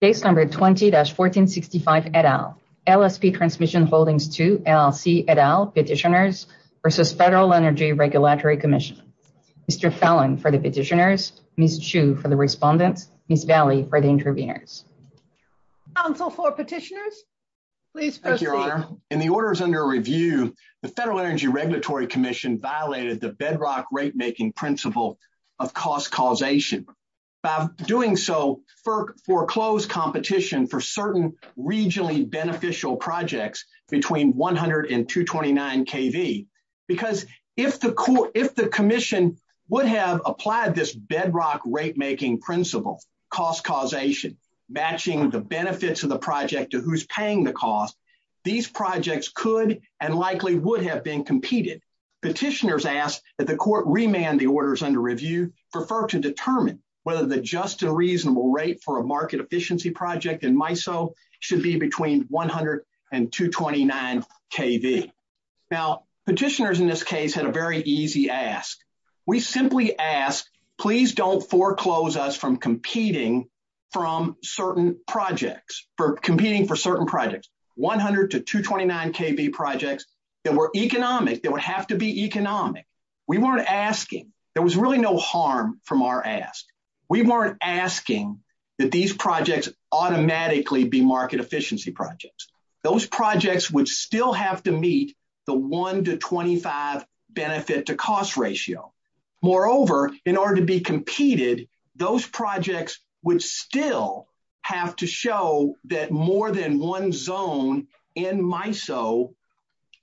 Case number 20-1465 et al. LSP Transmission Holdings II LLC et al. Petitioners v. Federal Energy Regulatory Commission. Mr. Fallon for the petitioners, Ms. Chu for the respondents, Ms. Daly for the interveners. Council for petitioners, please proceed. Thank you, Your Honor. In the orders under review, the Federal Energy Regulatory Commission violated the FERC foreclosed competition for certain regionally beneficial projects between $100,000 and $229,000. Because if the commission would have applied this bedrock rate-making principle, cost causation, matching the benefits of the project to who's paying the cost, these projects could and likely would have been competed. Petitioners asked that the court remand the orders under review prefer to determine whether the just a reasonable rate for a market efficiency project in MISO should be between $100,000 and $229,000. Now petitioners in this case had a very easy ask. We simply asked, please don't foreclose us from competing from certain projects, for competing for certain projects, $100,000 to $229,000 projects that were economic, that would have to be really no harm from our ask. We weren't asking that these projects automatically be market efficiency projects. Those projects would still have to meet the 1 to 25 benefit to cost ratio. Moreover, in order to be competed, those projects would still have to show that more than one zone in MISO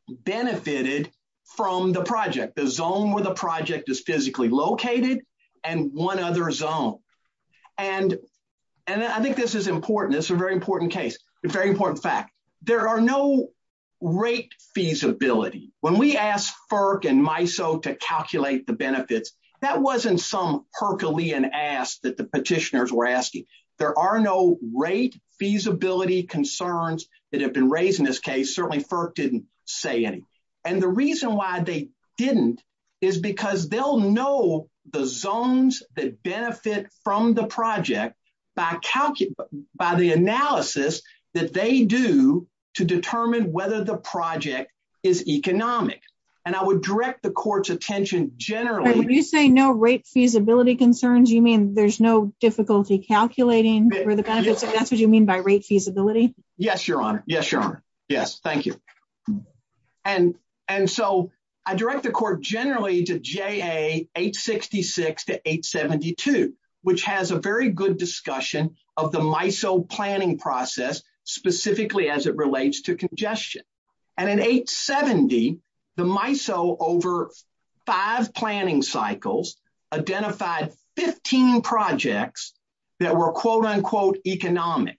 benefited from the project. One zone was allocated and one other zone. I think this is important. It's a very important case. It's a very important fact. There are no rate feasibility. When we asked FERC and MISO to calculate the benefits, that wasn't some Herculean ask that the petitioners were asking. There are no rate feasibility concerns that have been raised in this case. Certainly FERC didn't say any. The reason why they didn't is because they'll know the zones that benefit from the project by the analysis that they do to determine whether the project is economic. I would direct the court's attention generally... Are you saying no rate feasibility concerns? You mean there's no difficulty calculating for the benefits? Is that what you mean by rate feasibility? Yes, Your Honor. Yes, Your Honor. Yes. Thank you. I direct the court generally to JA 866 to 872, which has a very good discussion of the MISO planning process, specifically as it relates to congestion. In 870, the MISO over five planning cycles identified 15 projects that were quote-unquote economic.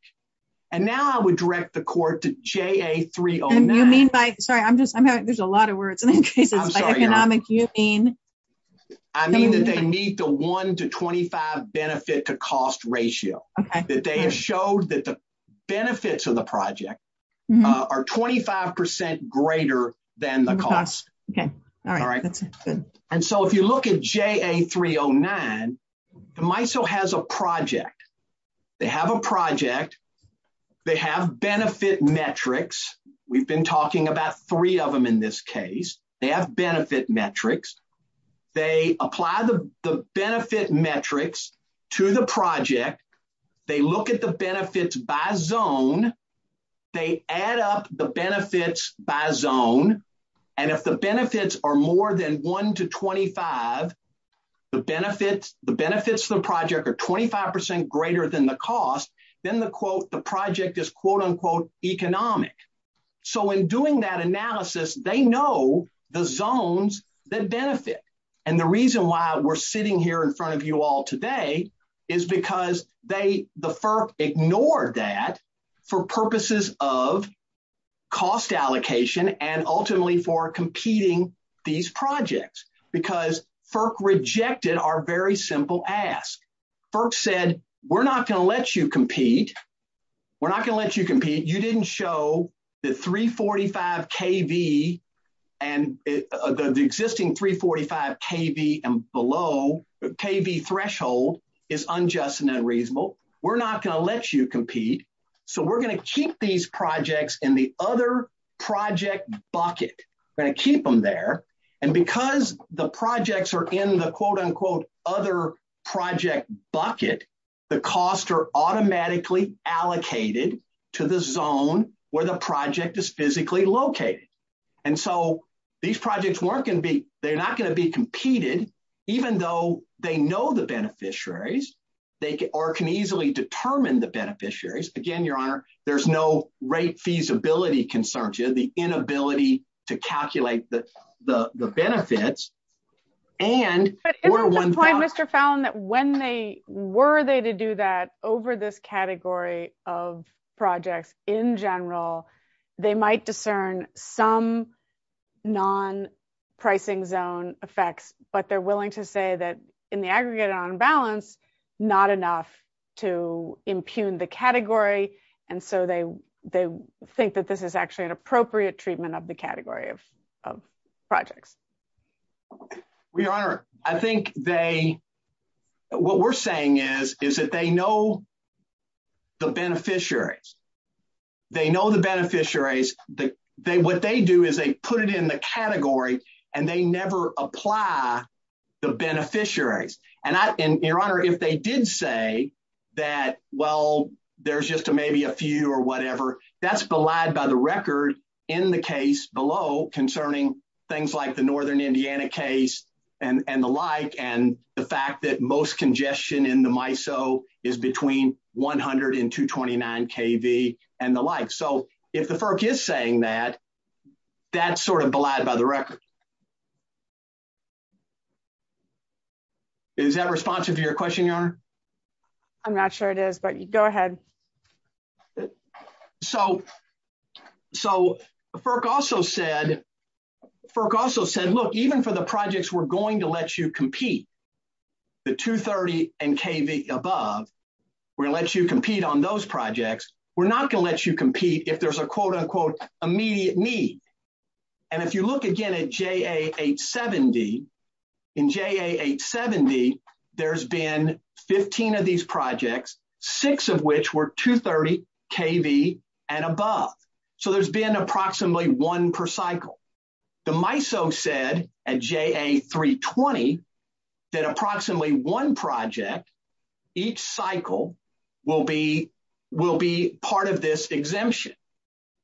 Now I would direct the court to JA 309. I'm sorry, there's a lot of words. I mean that they meet the 1 to 25 benefit to cost ratio. They have showed that the benefits of the project are 25% greater than the cost. If you look at JA 309, the MISO has a project. They have a project. They have benefit metrics. We've been talking about three of them in this case. They have benefit metrics. They apply the benefit metrics to the project. They look at the benefits by zone. They add up the benefits by zone, and if the benefits are more than 1 to 25, the benefits of the cost, then the quote the project is quote-unquote economic. So in doing that analysis, they know the zones that benefit, and the reason why we're sitting here in front of you all today is because the FERC ignored that for purposes of cost allocation and ultimately for competing these projects because FERC rejected our very simple ask. FERC said we're not going to let you compete. We're not going to let you compete. You didn't show that 345 KV and the existing 345 KV and below the KV threshold is unjust and unreasonable. We're not going to let you compete, so we're going to keep these projects in the other project bucket. We're going to keep them there, and because the projects are in the quote-unquote other project bucket, the costs are automatically allocated to the zone where the project is physically located, and so these projects, they're not going to be competed even though they know the beneficiaries or can easily determine the beneficiaries. Again, there's no rate feasibility concern here, the inability to calculate the benefits. Mr. Fallon, when they were they to do that over this category of projects in general, they might discern some non-pricing zone effects, but they're willing to say that in the aggregate on balance, not enough to impugn the category, and so they think that this is actually an appropriate treatment of the category of projects. Your Honor, I think what we're saying is that they know the beneficiaries. They know the beneficiaries. What they do is they put it in the category, and they never apply the beneficiaries, and Your Honor, if they did say that, well, there's just maybe a few or whatever, that's belied by the record in the case below concerning things like the Northern Indiana case and the like, and the fact that most congestion in the MISO is between 100 and 229 kV and the like, so if the FERC is saying that, that's sort of belied by the record. Is that responsive to your question, Your Honor? I'm not sure it is, but go ahead. So FERC also said, look, even for the projects we're going to let you compete, the 230 and kV above, we're going to let you compete on those projects. We're not going to let you compete if there's a quote-unquote immediate need, and if you look again at JA870, in JA870, there's been 15 of these projects, six of which were 230 kV and above, so there's been approximately one per cycle. The MISO said at JA320 that approximately one project each cycle will be part of this exemption,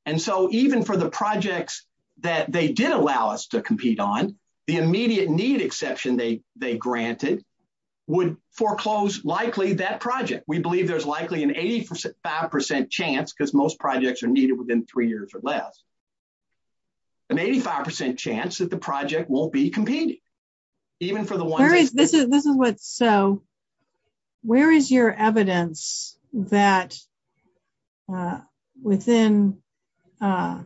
and so even for the projects that they did allow us to compete on, the immediate need exception they granted would foreclose likely that project. We believe there's likely an 85% chance, because most projects are needed within three years or less, an 85% chance that the project will be competing. This is what's so, where is your evidence that within MISO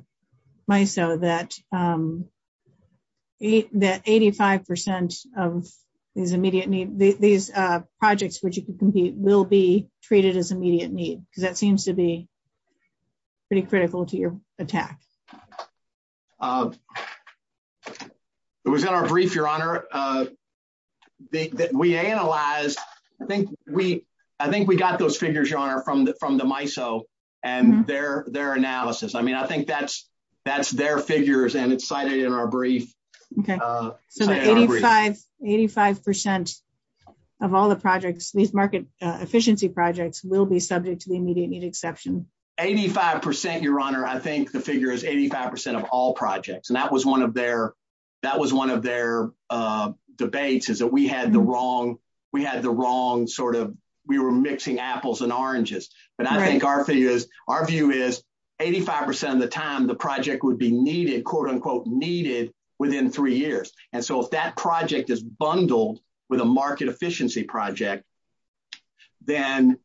that 85% of these immediate needs, these projects which you can compete, will be treated as immediate need? Because that seems to be pretty critical to your attack. It was in our brief, Your Honor, that we analyzed, I think we got those figures, Your Honor, from the MISO and their analysis. I mean, I think that's their figures and it's cited in our brief. 85% of all the projects, these market efficiency projects, will be subject to the immediate need exception. 85%, Your Honor, I think the figure is 85% of all projects, and that was one of their debates, is that we had the wrong sort of, we were mixing apples and oranges. But I think our view is, 85% of the time the project would be needed, quote-unquote needed, within three years. And so if that project is bundled with a market efficiency project, then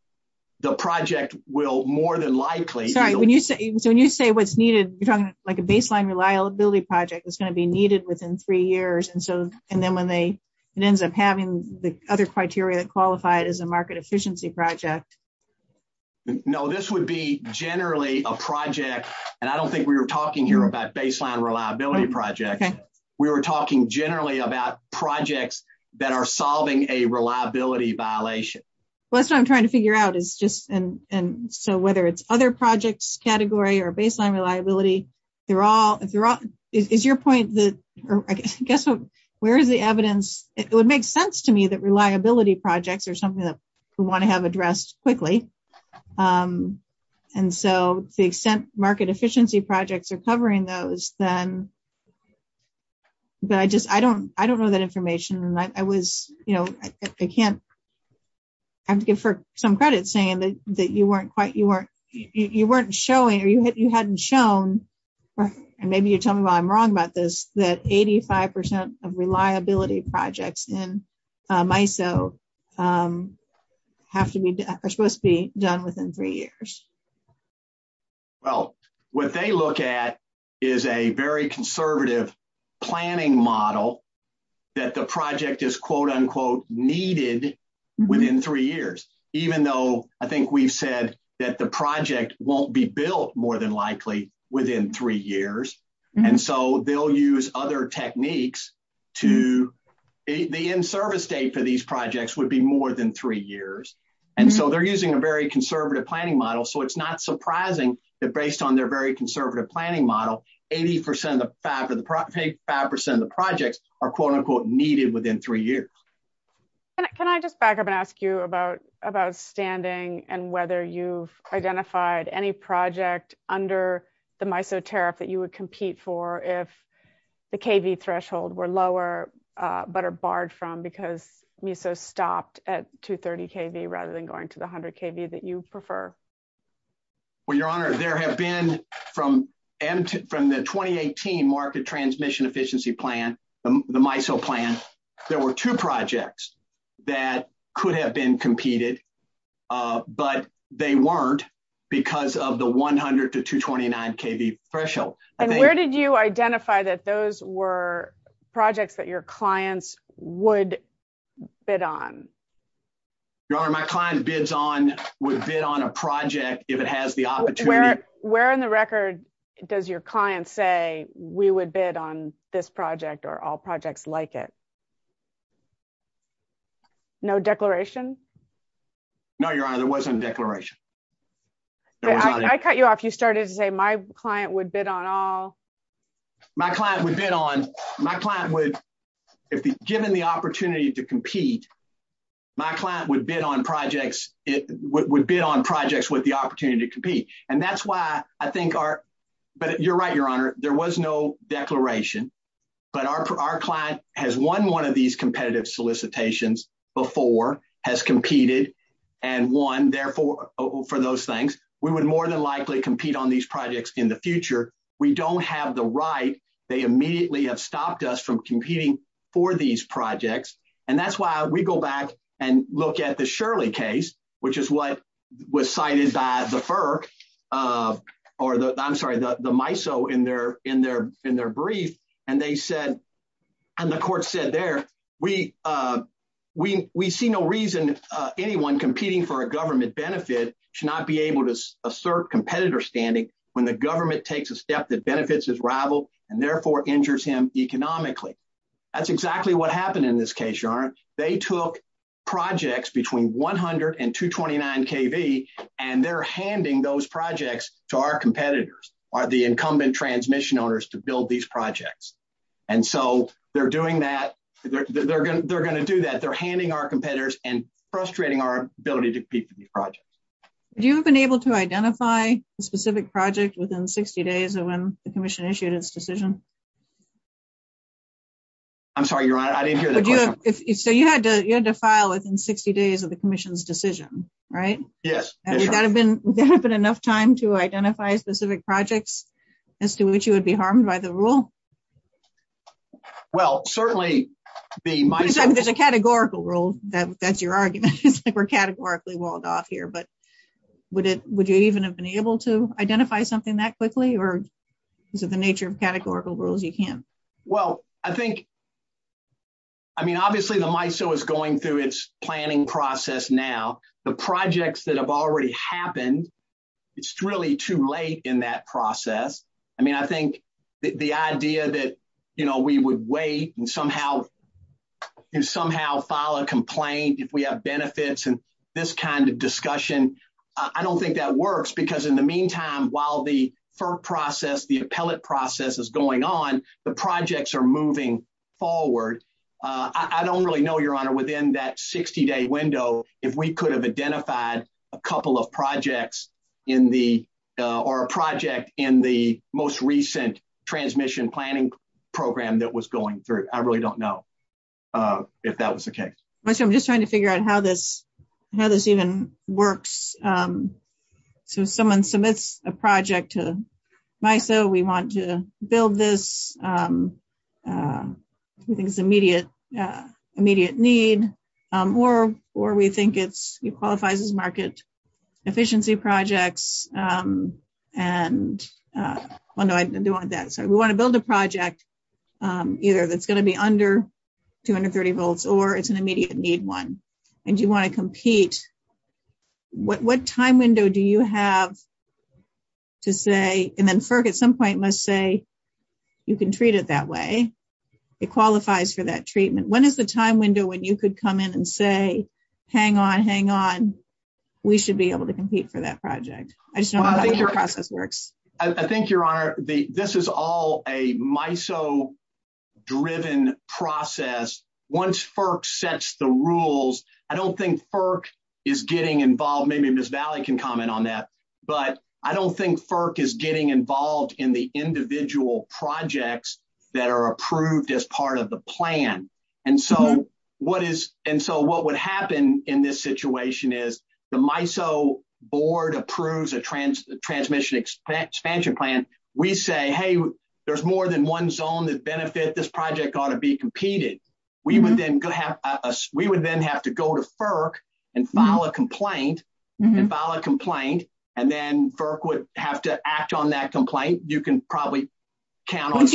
the project will more than likely... Sorry, when you say what's needed, you're talking like a baseline reliability project that's going to be needed within three years, and then it ends up having the other criteria qualified as a market efficiency project. No, this would be generally a project, and I don't think we were talking here about baseline reliability projects, we were talking generally about projects that are solving a reliability violation. That's what I'm trying to figure out, is just, and so whether it's other projects category or baseline reliability, they're all, is your point that, I guess, where is the evidence? It would make sense to me that reliability projects are something that we want to have addressed quickly, and so the extent market efficiency projects are covering those, then, but I just, I don't know that information, and I was, you know, I can't, for some credit, saying that you weren't quite, you know, and maybe you tell me why I'm wrong about this, that 85% of reliability projects in MISO have to be, are supposed to be done within three years. Well, what they look at is a very conservative planning model that the project is quote-unquote needed within three years, even though I think we've that the project won't be built more than likely within three years, and so they'll use other techniques to, the end service date for these projects would be more than three years, and so they're using a very conservative planning model, so it's not surprising that based on their very conservative planning model, 85% of the projects are quote-unquote needed within three years. Can I just back up and ask you about standing and whether you've identified any project under the MISO tariff that you would compete for if the KV threshold were lower, but are barred from because MISO stopped at 230 KV rather than going to the 100 KV that you prefer? Well, Your Honor, there have been, from the 2018 market transmission efficiency plan, the MISO plan, there were two projects that could have been competed, but they weren't because of the 100 to 229 KV threshold. And where did you identify that those were projects that your clients would bid on? Your Honor, my client bids on, would bid on a project if it has the opportunity. Where in the record does your client say we would bid on this project or all projects like it? No declarations? No, Your Honor, there wasn't a declaration. I cut you off. You started to say my client would bid on all. My client would bid on, my client would, if given the opportunity to compete, my client would bid on projects, would bid on projects with the opportunity to compete. And that's why I think our, but you're right, Your Honor. There was no declaration, but our client has won one of these competitive solicitations before, has competed and won, therefore, for those things. We would more than likely compete on these projects in the future. We don't have the right. They immediately have stopped us from competing for these projects. And that's why we go back and look at the Shirley case, which is what was cited by the FERC, or the, I'm sorry, the MISO in their brief. And they said, and the court said there, we see no reason anyone competing for a government benefit should not be able to assert competitor standing when the government takes a step that benefits his rival and therefore injures him economically. That's exactly what happened in this case, Your Honor. They took projects between 100 and 229 KV, and they're handing those projects to our competitors, are the incumbent transmission owners to build these projects. And so they're doing that. They're going to do that. They're handing our competitors and frustrating our ability to compete for these projects. Do you have been able to identify a specific project within 60 days of when the commission issued its decision? I'm sorry, Your Honor. I didn't hear the question. So you had to, you had to file within 60 days of the commission's decision, right? Yes. Would there have been enough time to identify specific projects as to which you would be harmed by the rule? Well, certainly being MISO. It's been a categorical rule. That's your argument. They were categorically walled off here. But would it, would you even have been able to identify something that quickly? Or is it the nature of categorical rules you can't? Well, I think, I mean, obviously the MISO is going through its planning process now. The projects that have already happened, it's really too late in that process. I mean, I think the idea that, you know, we would wait and somehow, and somehow file a complaint if we have benefits and this kind of discussion. I don't think that works because in the meantime, while the FERP process, the appellate process is going on, the projects are moving forward. I don't really know, your honor, within that 60 day window, if we could have identified a couple of projects in the, or a project in the most recent transmission planning program that was going through. I really don't know if that was the case. So I'm just trying to figure out how this, how this even works. So someone submits a project to MISO. We want to build this. We think it's an immediate need. Or we think it qualifies as market efficiency projects. And we want to build a project either that's going to be under 230 volts or it's an immediate need one. And you want to compete. What time window do you have to say, and then FERP at some point must say, you can treat it that way. It qualifies for that treatment. When is the time window when you could come in and say, hang on, hang on. We should be able to compete for that project. I just don't know how your process works. I think, your honor, this is all a MISO driven process. Once FERP sets the rules, I don't think FERP is getting involved. Maybe Ms. Valley can comment on that. But I don't think FERP is getting involved in the individual projects that are approved as part of the plan. And so what is, and so what would happen in this situation is the MISO board approves a transmission expansion plan. We say, hey, there's more than one zone that benefit. This project ought to be competed. We would then have to go to FERP and file a complaint, and file a complaint, and then FERP would have to act on that complaint. You can probably count on that.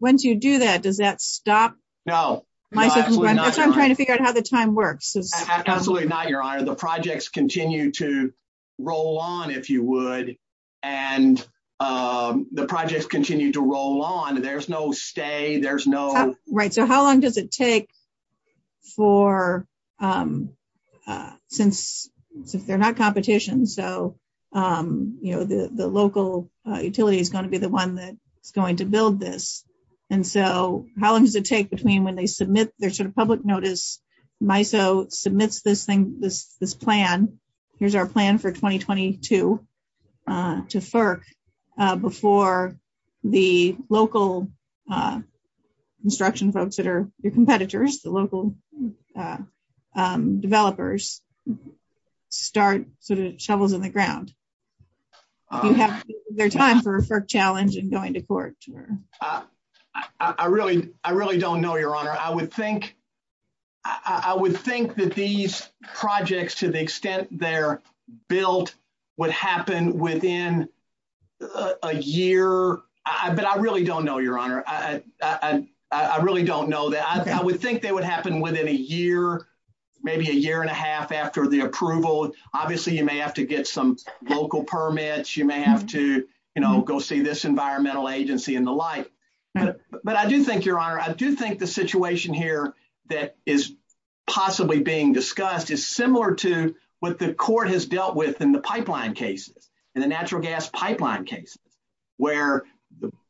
Once you do that, does that stop? No, absolutely not, your honor. The projects continue to roll on, if you would. And the projects continue to roll on. There's no stay. Right, so how long does it take for, since they're not competition, so the local utility is going to be the one that's going to build this. And so how long does it take between when they submit, there's sort of public notice, MISO submits this thing, this plan. Here's our plan for 2022 to FERP before the local construction folks that are your competitors, the local developers start sort of shovels in the ground. Do you have time for a FERP challenge and going to court? I really don't know, your honor. I would think that these projects, to the extent they're built, would happen within a year. But I really don't know, your honor. I really don't know that. I would think they would happen within a year, maybe a year and a half after the approval. Obviously, you may have to get some local permits. You may have to go see this environmental agency and the like. But I do think, your honor, I do think the situation here that is possibly being discussed is similar to what the court has dealt with in the pipeline cases, in the natural gas pipeline case, where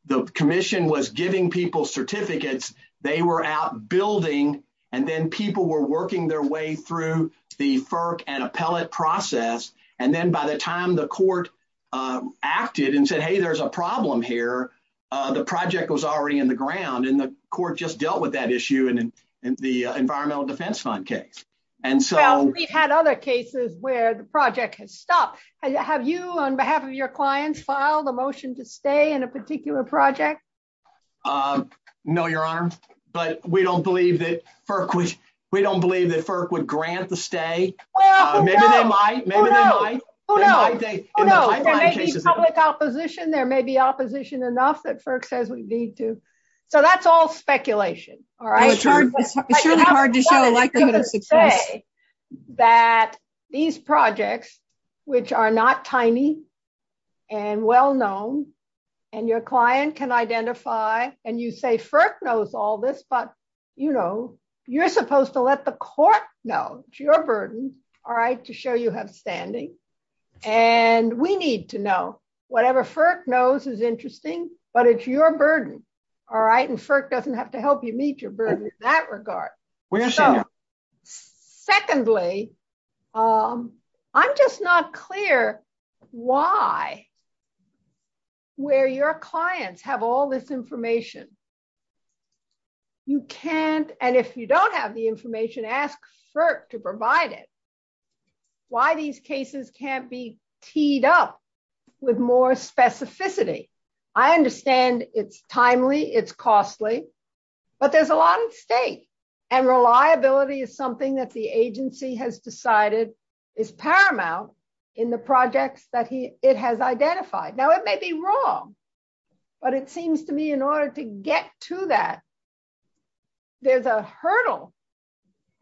the commission was giving people certificates, they were out building, and then people were working their way through the FERP and appellate process. And then by the time the court acted and said, hey, there's a problem here, the project was already in the ground. And the court just dealt with that issue in the Environmental Defense Fund case. Well, we've had other cases where the project has stopped. Have you, on behalf of your clients, filed a motion to stay in a particular project? No, your honor. But we don't believe that FERP would grant the stay. Maybe they might. Maybe they might. Who knows? Who knows? There may be public opposition. There may be opposition enough that FERP says we need to. So that's all speculation, all right? It's hard to say that these projects, which are not tiny and well known, and your client can identify, and you say FERP knows all this, but you're supposed to let the court know. It's your burden, all right, to show you have standing. And we need to know. Whatever FERP knows is interesting. But it's your burden, all right? FERP doesn't have to help you meet your burden in that regard. Secondly, I'm just not clear why, where your clients have all this information. You can't, and if you don't have the information, ask FERP to provide it. Why these cases can't be teed up with more specificity. I understand it's timely, it's costly, but there's a lot at stake. And reliability is something that the agency has decided is paramount in the projects that it has identified. Now, it may be wrong, but it seems to me in order to get to that, there's a hurdle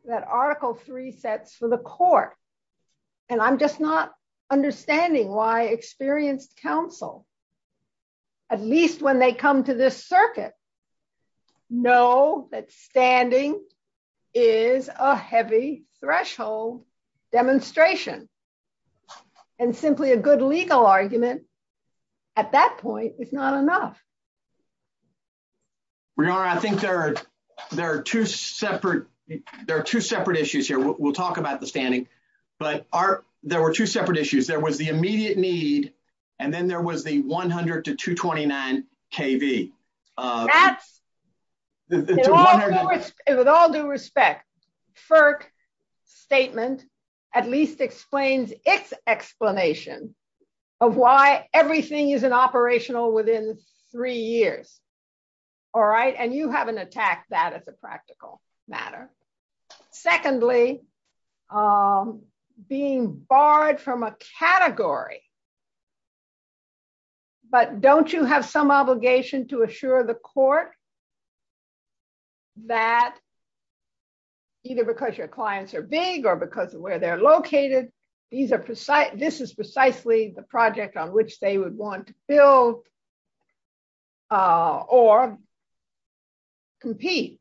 that Article 3 sets for the court. And I'm just not understanding why experienced counsel at least when they come to this circuit, know that standing is a heavy threshold demonstration. And simply a good legal argument at that point is not enough. Your Honor, I think there are two separate issues here. We'll talk about the standing. But there were two separate issues. There was the immediate need, and then there was the 100 to 229 KV. That's, with all due respect, FERP's statement at least explains its explanation of why everything is an operational within three years. All right? And you haven't attacked that as a practical matter. Secondly, being barred from a category. But don't you have some obligation to assure the court that either because your clients are big or because of where they're located, this is precisely the project on which they would want to build or compete?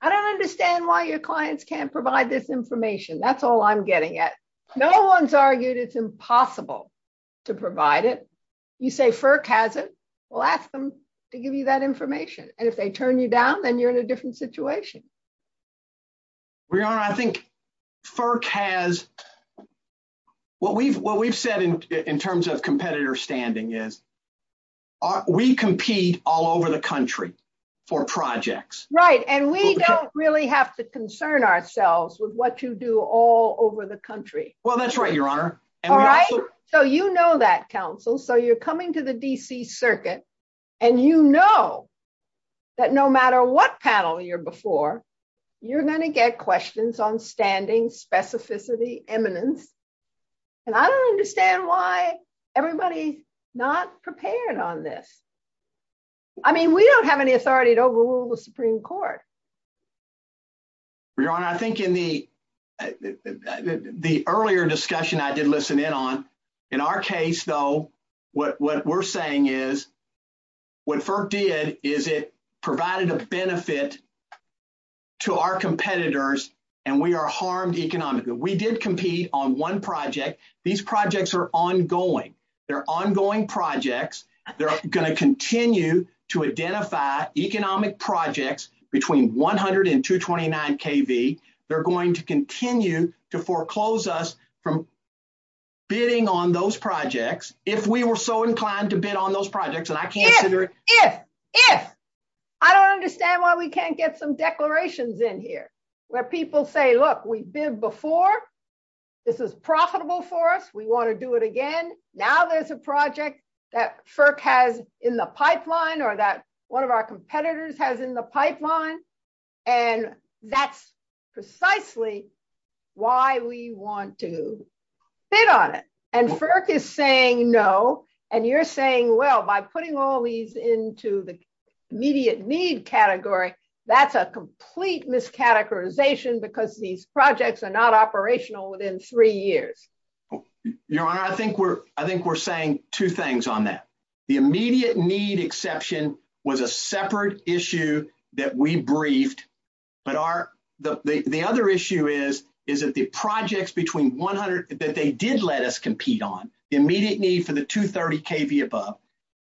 I don't understand why your clients can't provide this information. That's all I'm getting at. No one's argued it's impossible to provide it. You say FERC has it, we'll ask them to give you that information. And if they turn you down, then you're in a different situation. Your Honor, I think FERC has, what we've said in terms of competitor standing is, we compete all over the country for projects. Right. And we don't really have to concern ourselves with what you do all over the country. Well, that's right, Your Honor. All right? So you know that, counsel. So you're coming to the D.C. Circuit, and you know that no matter what panel you're before, you're going to get questions on standing specificity eminence. And I don't understand why everybody's not prepared on this. I mean, we don't have any authority to overrule the Supreme Court. Your Honor, I think in the earlier discussion I did listen in on, in our case, though, what we're saying is, what FERC did is it provided a benefit to our competitors, and we are harmed economically. We did compete on one project. These projects are ongoing. They're ongoing projects. They're going to continue to identify economic projects between 100 and 229 KV. They're going to continue to foreclose us from bidding on those projects, if we were so inclined to bid on those projects. And I can't figure— If, if, if! I don't understand why we can't get some declarations in here, where people say, look, we bid before. This is profitable for us. We want to do it again. Now there's a project that FERC has in the pipeline, or that one of our competitors has in the pipeline, and that's precisely why we want to bid on it. And FERC is saying no, and you're saying, well, by putting all these into the immediate need category, that's a complete miscategorization, because these projects are not operational within three years. Your Honor, I think we're, I think we're saying two things on that. The immediate need exception was a separate issue that we briefed, but our, the other issue is, is that the projects between 100, that they did let us compete on, the immediate need for the 230 KV above,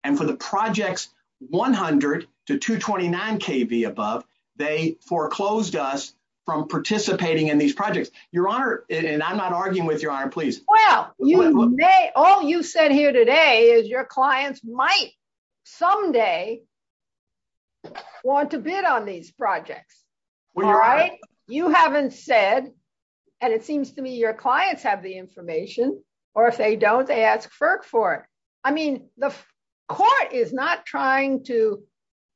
and for the projects 100 to 229 KV above, they foreclosed us from participating in these projects. Your Honor, and I'm not arguing with Your Honor, Well, you may, all you said here today is, your clients might someday want to bid on these projects. All right? You haven't said, and it seems to me your clients have the information, or if they don't, they ask FERC for it. I mean, the court is not trying to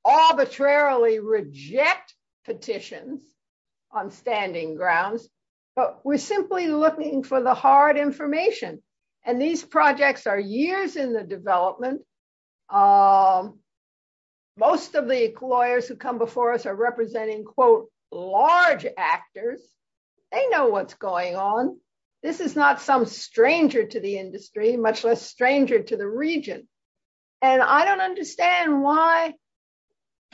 arbitrarily reject petitions on standing grounds, but we're simply looking for the hard information. And these projects are years in the development. Most of the lawyers who come before us are representing, quote, large actors. They know what's going on. This is not some stranger to the industry, much less stranger to the region. And I don't understand why,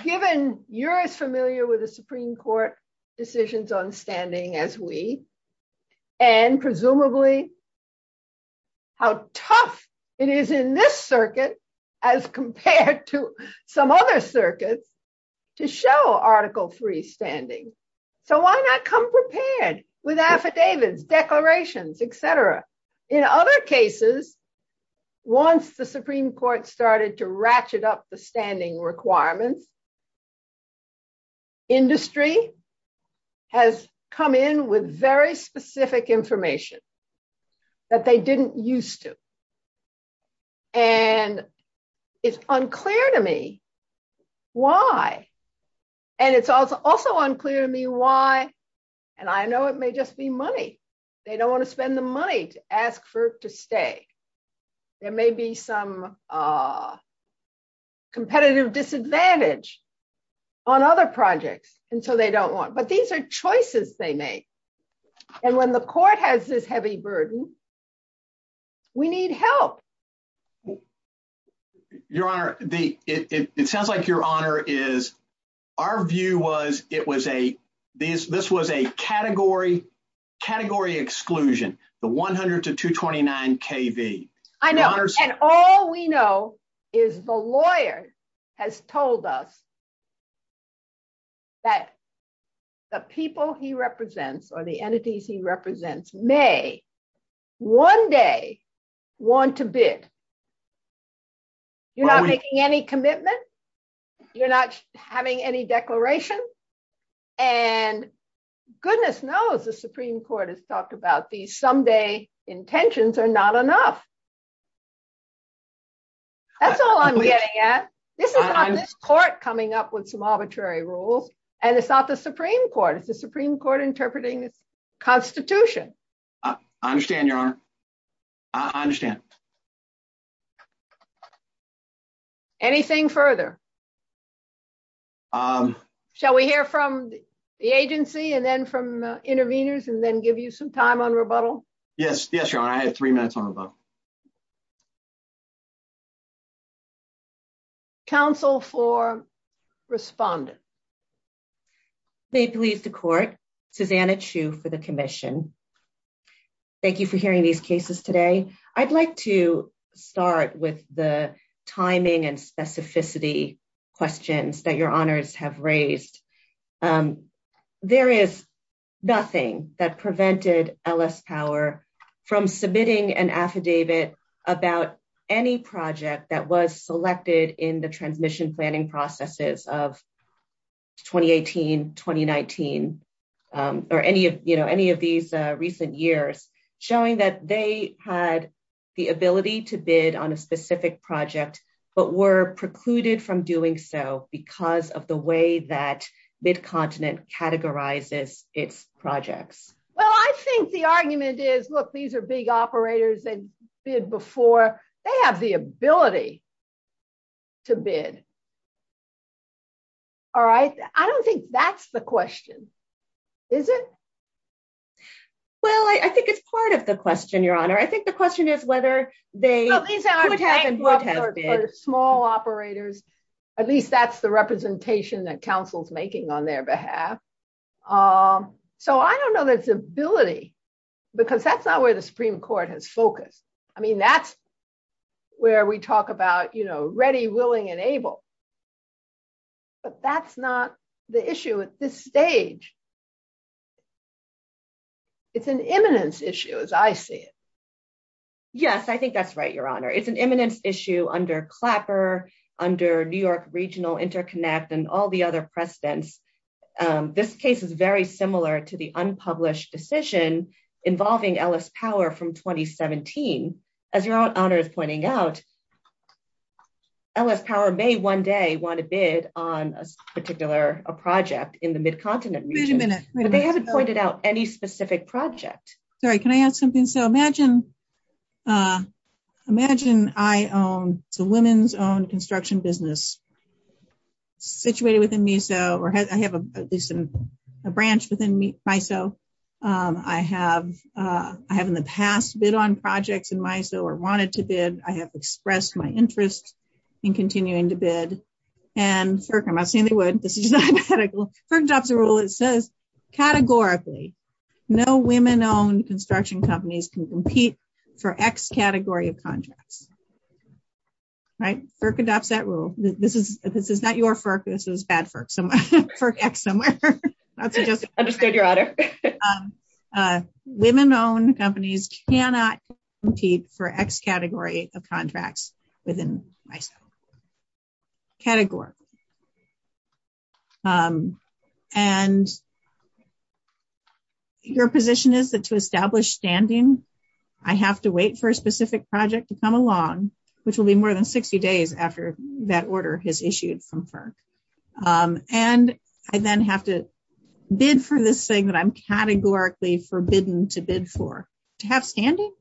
given you're as familiar with the Supreme Court decisions on standing as we, and presumably how tough it is in this circuit as compared to some other circuits, to show Article III standing. So why not come prepared with affidavits, declarations, et cetera? In other cases, once the Supreme Court started to ratchet up the standing requirements, the industry has come in with very specific information that they didn't used to. And it's unclear to me why. And it's also unclear to me why, and I know it may just be money. They don't want to spend the money to ask FERC to stay. There may be some competitive disadvantage on other projects, and so they don't want. But these are choices they make. And when the court has this heavy burden, we need help. Your Honor, it sounds like, Your Honor, is our view was this was a category exclusion. The 100 to 229 KV. I know, and all we know is the lawyer has told us that the people he represents or the entities he represents may one day want to bid. You're not making any commitment. You're not having any declaration. And goodness knows the Supreme Court has talked about these someday intentions are not enough. That's all I'm getting at. This is not the court coming up with some arbitrary rule, and it's not the Supreme Court. It's the Supreme Court interpreting the Constitution. I understand, Your Honor. I understand. Anything further? Shall we hear from the agency and then from the interveners and then give you some time on rebuttal? Yes. Yes, Your Honor. I have three minutes on rebuttal. Counsel for Respondent. Please leave the court. Susanna Chu for the commission. Thank you for hearing these cases today. I'd like to start with the timing and specificity questions that Your Honors have raised. There is nothing that prevented LS Power from submitting an affidavit about any project that was selected in the transmission planning processes of 2018, 2019 or any of these recent years showing that they had the ability to bid on a specific project but were precluded from doing so because of the way that BidContinent categorizes its projects. Well, I think the argument is, look, these are big operators that bid before. They have the ability to bid. All right. I don't think that's the question. Is it? Well, I think it's part of the question, Your Honor. I think the question is whether they were small operators. At least that's the representation that counsel's making on their behalf. So I don't know there's ability because that's not where the Supreme Court has focused. I mean, that's where we talk about ready, willing, and able. But that's not the issue at this stage. It's an imminence issue, as I see it. Yes, I think that's right, Your Honor. It's an imminence issue under Clapper, under New York Regional Interconnect, and all the other precedents. This case is very similar to the unpublished decision involving Ellis Power from 2017. As Your Honor is pointing out, Ellis Power may one day want to bid on a particular project in the BidContinent region. Wait a minute. They haven't pointed out any specific project. Sorry. Can I ask something? So imagine I own the women's-owned construction business situated within MISO. Or I have at least a branch within MISO. I have in the past bid on projects in MISO or wanted to bid. I have expressed my interest in continuing to bid. And certainly, I'm not saying they would. This is just hypothetical. First off the rule, it says, categorically, no women-owned construction companies can compete for X category of contracts. Right? FERC adopts that rule. This is not your FERC. This is bad FERC. So FERC X somewhere. I'll just go to Your Honor. Women-owned companies cannot compete for X category of contracts within MISO. Category. And your position is that to establish standing, I have to wait for a specific project to come along, which will be more than 60 days after that order has issued from FERC. And I then have to bid for this thing that I'm categorically forbidden to bid for. To have standing?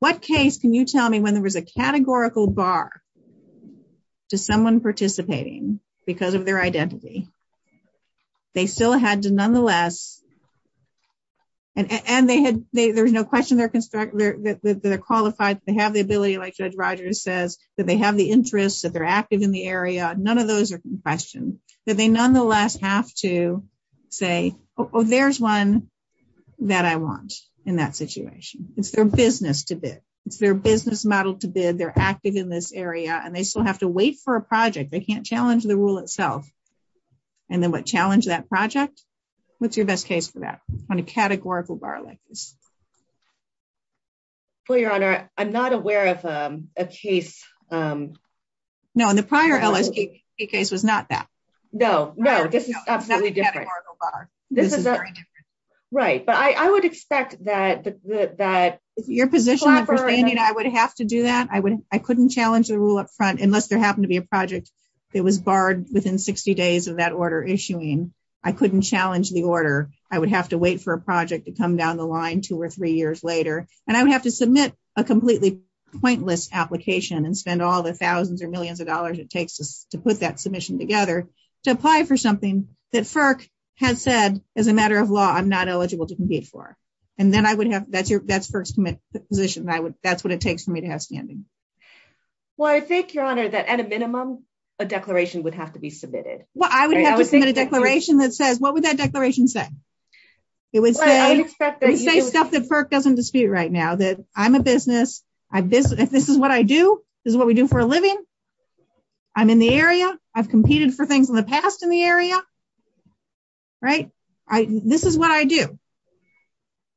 What case can you tell me when there was a categorical bar to someone participating because of their identity? They still had to nonetheless. And there's no question they're qualified. They have the ability, like Judge Rogers says, that they have the interest, that they're active in the area. None of those are questions. But they nonetheless have to say, oh, there's one that I want in that situation. It's their business to bid. It's their business model to bid. They're active in this area. And they still have to wait for a project. They can't challenge the rule itself. And then what? Challenge that project? What's your best case for that? On a categorical bar like this? Well, Your Honor, I'm not aware of a case. No, and the prior LSP case was not that. No, no. Right, but I would expect that. Your position is that I would have to do that? I couldn't challenge the rule up front, unless there happened to be a project that was barred within 60 days of that order issuing. I couldn't challenge the order. I would have to wait for a project to come down the line two or three years later. And I would have to submit a completely pointless application and spend all the thousands or millions of dollars it takes to put that submission together to apply for something that FERC has said, as a matter of law, I'm not eligible to compete for. And then I would have, that's FERC's position. That's what it takes for me to have standing. Well, I think, Your Honor, that at a minimum, a declaration would have to be submitted. Well, I would have to submit a declaration that says, what would that declaration say? It would say stuff that FERC doesn't dispute right now, that I'm a business. If this is what I do, this is what we do for a living. I'm in the area. I've competed for things in the past in the area, right? This is what I do.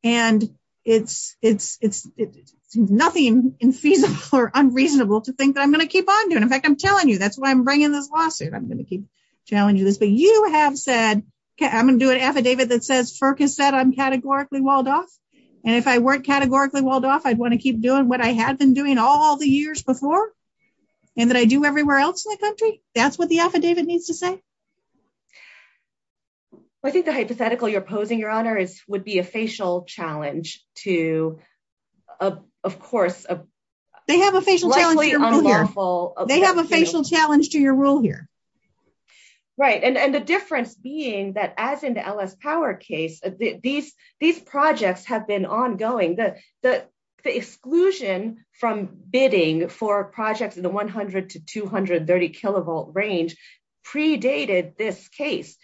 And it's nothing infeasible or unreasonable to think that I'm going to keep on doing. In fact, I'm telling you, that's why I'm bringing this lawsuit. I'm going to keep challenging this. But you have said, okay, I'm going to do an affidavit that says FERC has said I'm categorically walled off. And if I weren't categorically walled off, I'd want to keep doing what I have been doing all the years before. And that I do everywhere else in the country. That's what the affidavit needs to say. I think the hypothetical you're posing, Your Honor, is would be a facial challenge to, of course- They have a facial challenge to your rule here. They have a facial challenge to your rule here. Right. And the difference being that as in the LS Power case, these projects have been ongoing. The exclusion from bidding for projects in the 100 to 230 kilovolt range predated this case.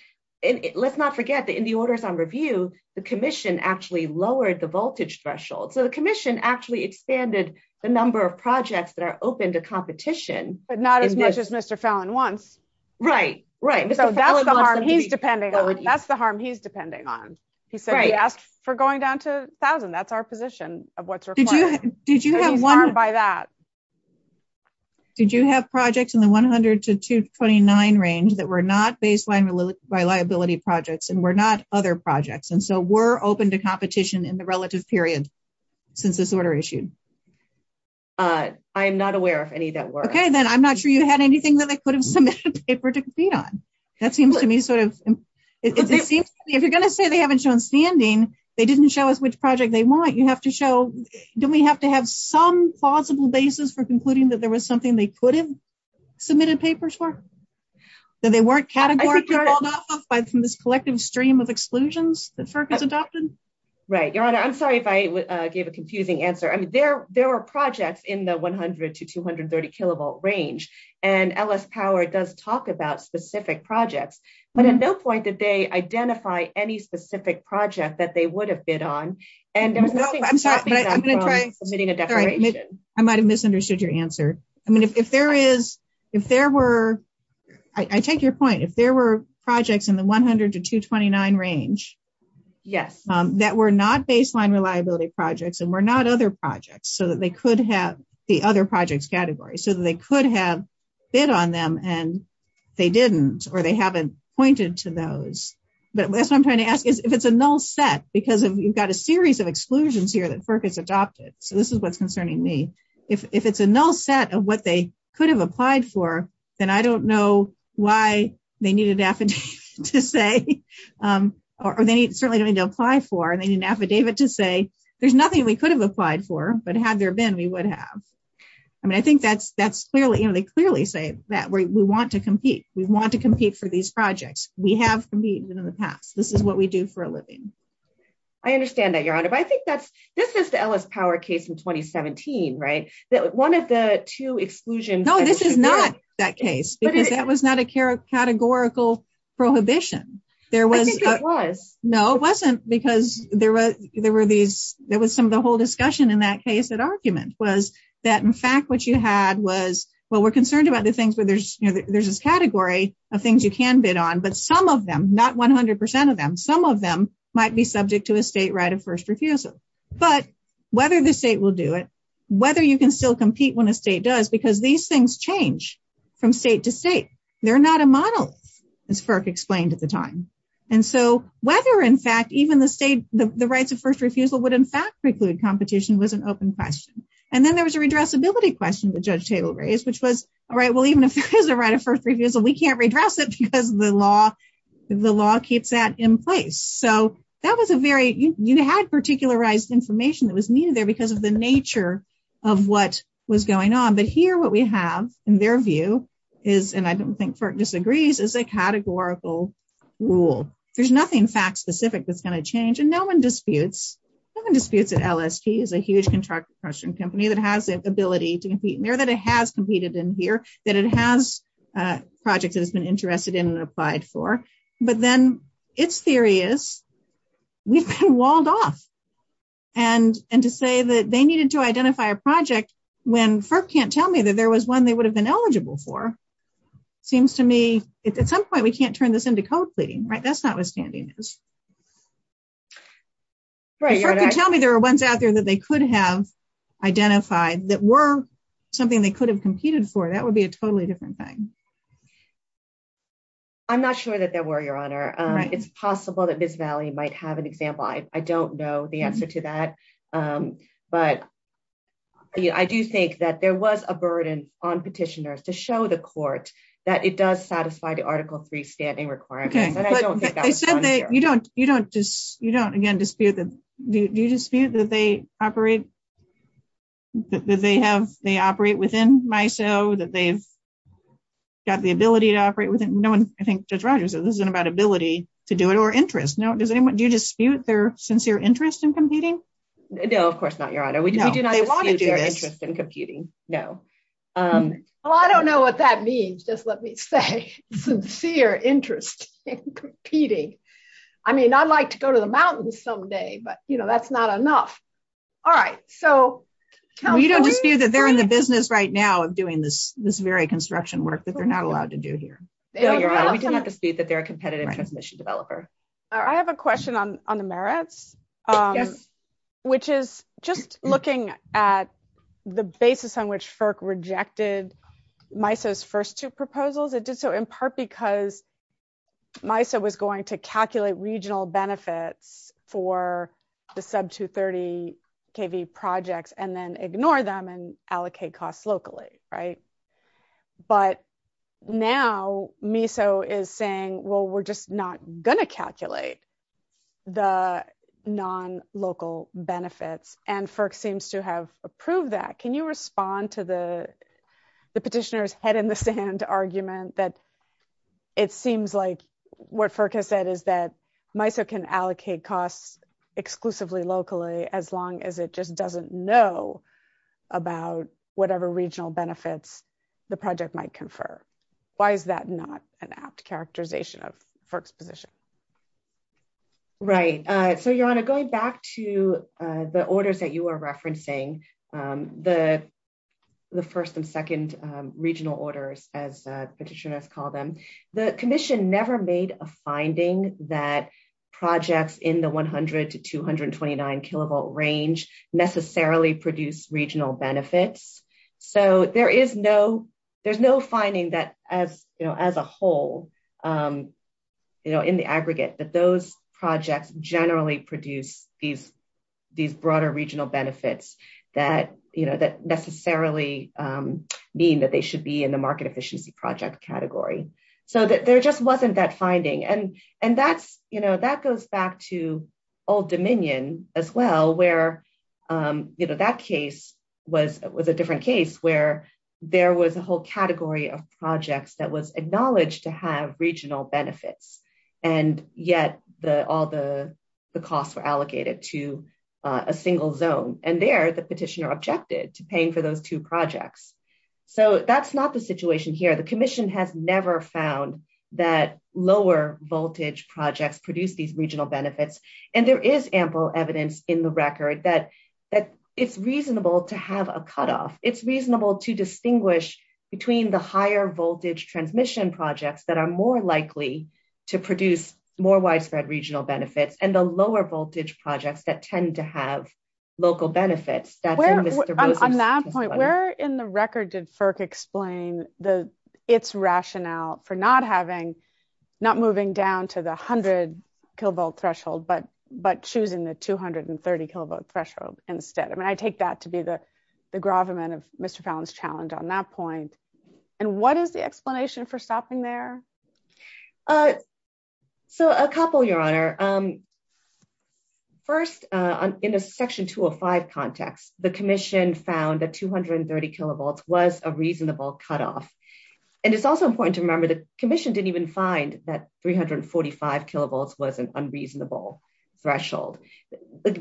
Let's not forget that in the orders on review, the commission actually lowered the voltage threshold. So the commission actually expanded the number of projects that are open to competition. But not as much as Mr. Fallon wants. Right. Right. So that's the harm he's depending on. That's the harm he's depending on. He said yes for going down to 1,000. That's our position of what's required. Did you have one- He's harmed by that. Did you have projects in the 100 to 229 range that were not baseline reliability projects and were not other projects? And so were open to competition in the relative period since this order issued? I am not aware of any that were. Okay. Then I'm not sure you had anything that I could have submitted a paper to be on. That seems to me sort of- If you're going to say they haven't shown standing, they didn't show us which project they want. You have to show, don't we have to have some plausible basis for concluding that there was something they couldn't submit a paper for? That they weren't categorized in this collective stream of exclusions that FERC has adopted? Right. Your Honor, I'm sorry if I gave a confusing answer. There were projects in the 100 to 230 kilovolt range. And LS Power does talk about specific projects. But at no point did they identify any specific project that they would have bid on. And I'm sorry, I might have misunderstood your answer. I mean, if there is, if there were, I take your point. If there were projects in the 100 to 229 range. Yes. That were not baseline reliability projects and were not other projects. So that they could have the other projects category. So that they could have bid on them and they didn't. Or they haven't pointed to those. But that's what I'm trying to ask. If it's a null set. Because you've got a series of exclusions here that FERC has adopted. So this is what's concerning me. If it's a null set of what they could have applied for. Then I don't know why they needed an affidavit to say. Or they certainly don't need to apply for. And they need an affidavit to say, there's nothing we could have applied for. But had there been, we would have. I mean, I think that's clearly, they clearly say that we want to compete. We want to compete for these projects. We have competed in the past. This is what we do for a living. I understand that, Your Honor. But I think that's, this is the Ellis Power case in 2017, right? That one of the two exclusions. No, this is not that case. Because that was not a categorical prohibition. There was. I think it was. No, it wasn't. Because there were these, there was some of the whole discussion in that case. That argument was that, in fact, what you had was. Well, we're concerned about the things where there's, there's this category of things you can bid on. But some of them, not 100% of them, some of them might be subject to a state right of first refusal. But whether the state will do it, whether you can still compete when a state does. Because these things change from state to state. They're not a model, as FERC explained at the time. And so whether, in fact, even the state, the rights of first refusal would, in fact, preclude competition was an open question. And then there was a redressability question the judge table raised, which was, all right, well, even if there is a right of first refusal, we can't redress it because the law, the law keeps that in place. So that was a very, you had particularized information that was needed there because of the nature of what was going on. But here, what we have, in their view, is, and I don't think FERC disagrees, is a categorical rule. There's nothing fact specific that's going to change. And no one disputes, no one disputes that LST is a huge contract suppression company that has the ability to compete in there, that it has competed in here, that it has a project that it's been interested in and applied for. But then, its theory is, we've been walled off. And to say that they needed to identify a project when FERC can't tell me that there was one they would have been eligible for, seems to me, at some point, we can't turn this into code pleading, right? That's not what standing is. If FERC can tell me there are ones out there that they could have identified that were something they could have competed for, that would be a totally different thing. I'm not sure that there were, Your Honor. It's possible that this valley might have an example. I don't know the answer to that. But I do think that there was a burden on petitioners to show the court that it does satisfy the Article III standing requirements. But I don't think that's on there. You don't, again, dispute that they operate, that they operate within MISO, that they've got the ability to operate within, no one, I think Judge Rogers said, this isn't about ability to do it or interest. Now, does anyone, do you dispute their sincere interest in competing? No, of course not, Your Honor. We do not dispute their interest in competing, no. Well, I don't know what that means, just let me say. Sincere interest in competing. I mean, I'd like to go to the mountains someday, but, you know, that's not enough. All right, so- We don't dispute that they're in the business right now of doing this very construction work that they're not allowed to do here. No, Your Honor, we do not dispute that they're a competitive transmission developer. I have a question on the merits, which is just looking at the basis on which FERC rejected MISO's first two proposals. It did so in part because MISO was going to calculate regional benefits for the sub-230 KV projects and then ignore them and allocate costs locally. Right? But now MISO is saying, well, we're just not going to calculate the non-local benefits, and FERC seems to have approved that. Can you respond to the petitioner's head-in-the-sand argument that it seems like what FERC has said is that MISO can allocate costs exclusively locally as long as it just doesn't know about whatever regional benefits the project might confer? Why is that not an apt characterization of FERC's position? Right. So, Your Honor, going back to the orders that you are referencing, the first and second regional orders, as the petitioner has called them, the commission never made a finding that projects in the 100 to 229 KV range necessarily produce regional benefits. So there is no finding that as a whole, in the aggregate, that those projects generally produce these broader regional benefits that necessarily mean that they should be in the market efficiency project category. So there just wasn't that finding. And that goes back to Old Dominion as well, where that case was a different case, where there was a whole category of projects that was acknowledged to have regional benefits. And yet all the costs were allocated to a single zone. And there, the petitioner objected to paying for those two projects. So that's not the situation here. The commission has never found that lower voltage projects produce these regional benefits. And there is ample evidence in the record that it's reasonable to have a cutoff. It's reasonable to distinguish between the higher voltage transmission projects that are more likely to produce more widespread regional benefits and the lower voltage projects that tend to have local benefits. That's in the- Where, on that point, where in the record did FERC explain its rationale for not having, not moving down to the 100 kilovolt threshold, but choosing the 230 kilovolt threshold instead? I mean, I take that to be the gravamen of Mr. Fallon's challenge on that point. And what is the explanation for stopping there? So a couple, Your Honor. First, in a section 205 context, the commission found that 230 kilovolts was a reasonable cutoff. And it's also important to remember the commission didn't even find that 345 kilovolts was unreasonable. Threshold.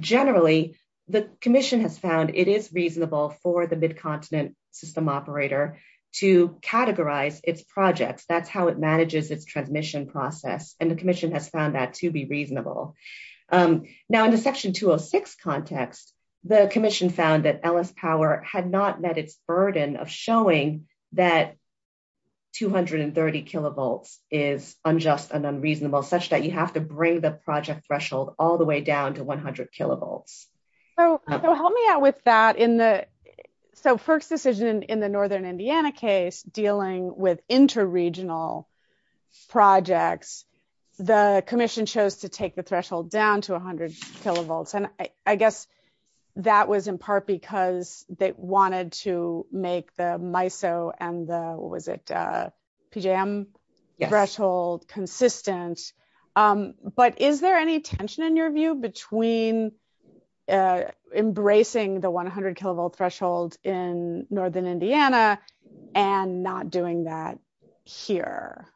Generally, the commission has found it is reasonable for the mid-continent system operator to categorize its projects. That's how it manages its transmission process. And the commission has found that to be reasonable. Now, in the section 206 context, the commission found that LS Power had not met its burden of showing that 230 kilovolts is unjust and unreasonable, such that you have to bring the project threshold all the way down to 100 kilovolts. So help me out with that. So first decision in the Northern Indiana case dealing with inter-regional projects, the commission chose to take the threshold down to 100 kilovolts. And I guess that was in part because they wanted to make the MISO and the PJM threshold consistent. But is there any tension in your view between embracing the 100 kilovolt threshold in Northern Indiana and not doing that here?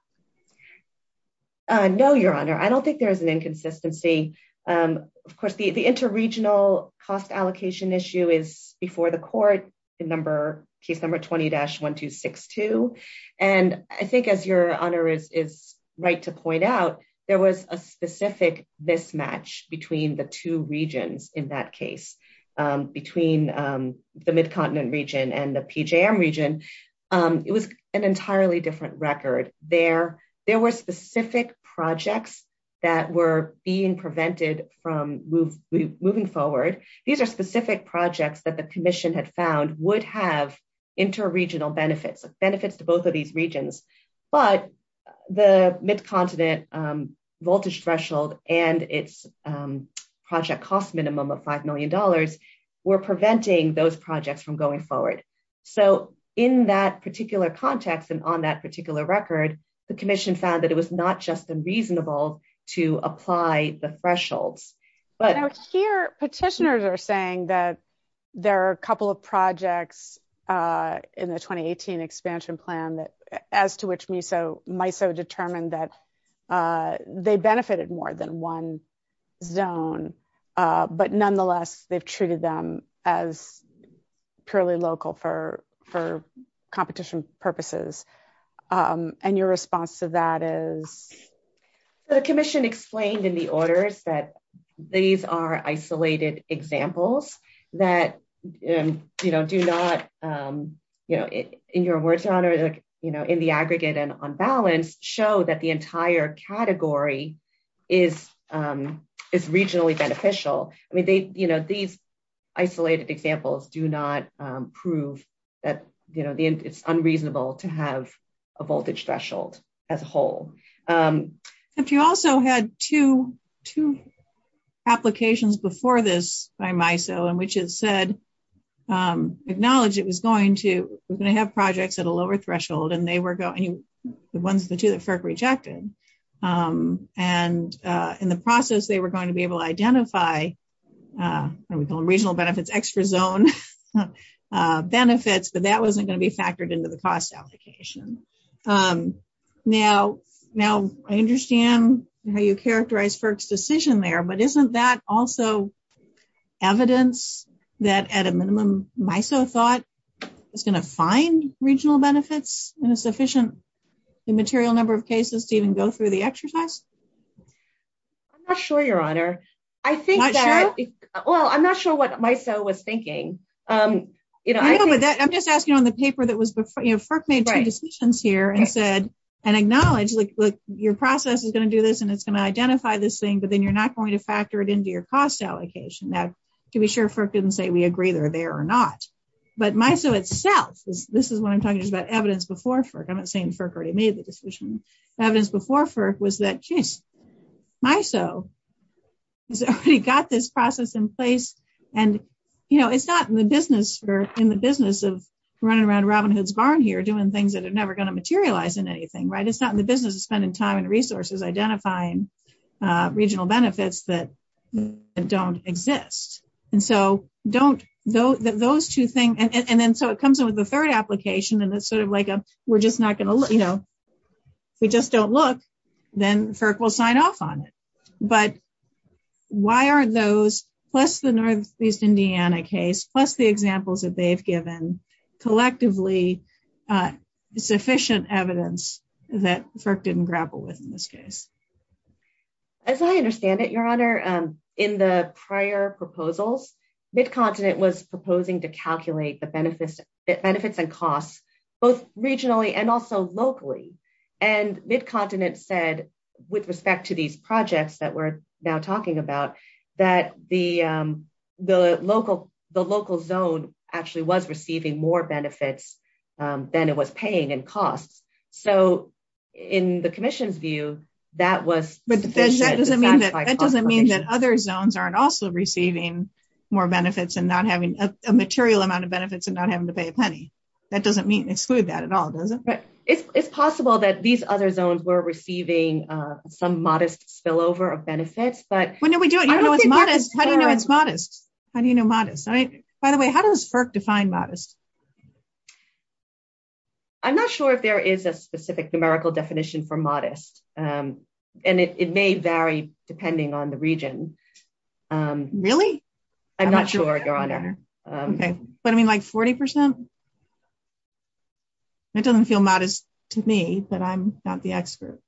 No, Your Honor. I don't think there is an inconsistency. Of course, the inter-regional cost allocation issue is before the court in case number 20-1262. And I think as Your Honor is right to point out, there was a specific mismatch between the two regions in that case. Between the Mid-Continent region and the PJM region, it was an entirely different record. There were specific projects that were being prevented from moving forward. These are specific projects that the commission had found would have inter-regional benefits, benefits to both of these regions. But the Mid-Continent voltage threshold and its project cost minimum of $5 million were preventing those projects from going forward. So in that particular context and on that particular record, the commission found that it was not just unreasonable to apply the threshold. But here, petitioners are saying that there are a couple of projects in the 2018 expansion plan as to which MISO determined that they benefited more than one zone. But nonetheless, they've treated them as purely local for competition purposes. And your response to that is? So the commission explained in the orders that these are isolated examples that do not, in your words, not in the aggregate and on balance, show that the entire category is regionally beneficial. I mean, these isolated examples do not prove that it's unreasonable to have a voltage threshold as whole. But you also had two applications before this by MISO in which it said, acknowledged it was going to have projects at a lower threshold and they were the ones that FERC rejected. And in the process, they were going to be able to identify what we call regional benefits, extra zone benefits, but that wasn't going to be factored into the cost application. Now, I understand how you characterize FERC's decision there, but isn't that also evidence that at a minimum, MISO thought it's going to find regional benefits in a sufficient immaterial number of cases to even go through the exercise? I'm not sure, Your Honor. I think that, well, I'm not sure what MISO was thinking. You know, I'm just asking on the paper that was before, you know, and said, and acknowledge your process is going to do this and it's going to identify this thing, but then you're not going to factor it into your cost allocation. Now, to be sure FERC didn't say we agree they're there or not, but MISO itself, this is what I'm talking about, evidence before FERC. I'm not saying FERC already made the decision. Evidence before FERC was that, geez, MISO has already got this process in place. And, you know, it's not in the business of running around Robin Hood's barn here doing things that are never going to materialize in anything, right? It's not in the business of spending time and resources identifying regional benefits that don't exist. And so don't, those two things, and then so it comes with the third application and it's sort of like, we're just not going to, you know, we just don't look, then FERC will sign off on it. But why are those, plus the Northeast Indiana case, plus the examples that they've given, collectively sufficient evidence that FERC didn't grapple with in this case? As I understand it, Your Honor, in the prior proposals, Mid-Continent was proposing to calculate the benefits and costs, both regionally and also locally. And Mid-Continent said, with respect to these projects that we're now talking about, that the local zone actually was receiving more benefits than it was paying in cost. So in the Commission's view, that was sufficient to justify cost allocation. But that doesn't mean that other zones aren't also receiving more benefits and not having a material amount of benefits and not having to pay a penny. That doesn't exclude that at all, does it? But it's possible that these other zones were receiving some modest spillover of benefits, When did we do it? How do you know it's modest? How do you know it's modest? By the way, how does FERC define modest? I'm not sure if there is a specific numerical definition for modest. And it may vary depending on the region. Really? I'm not sure, Your Honor. Does that mean like 40%? That doesn't feel modest to me, but I'm not the expert.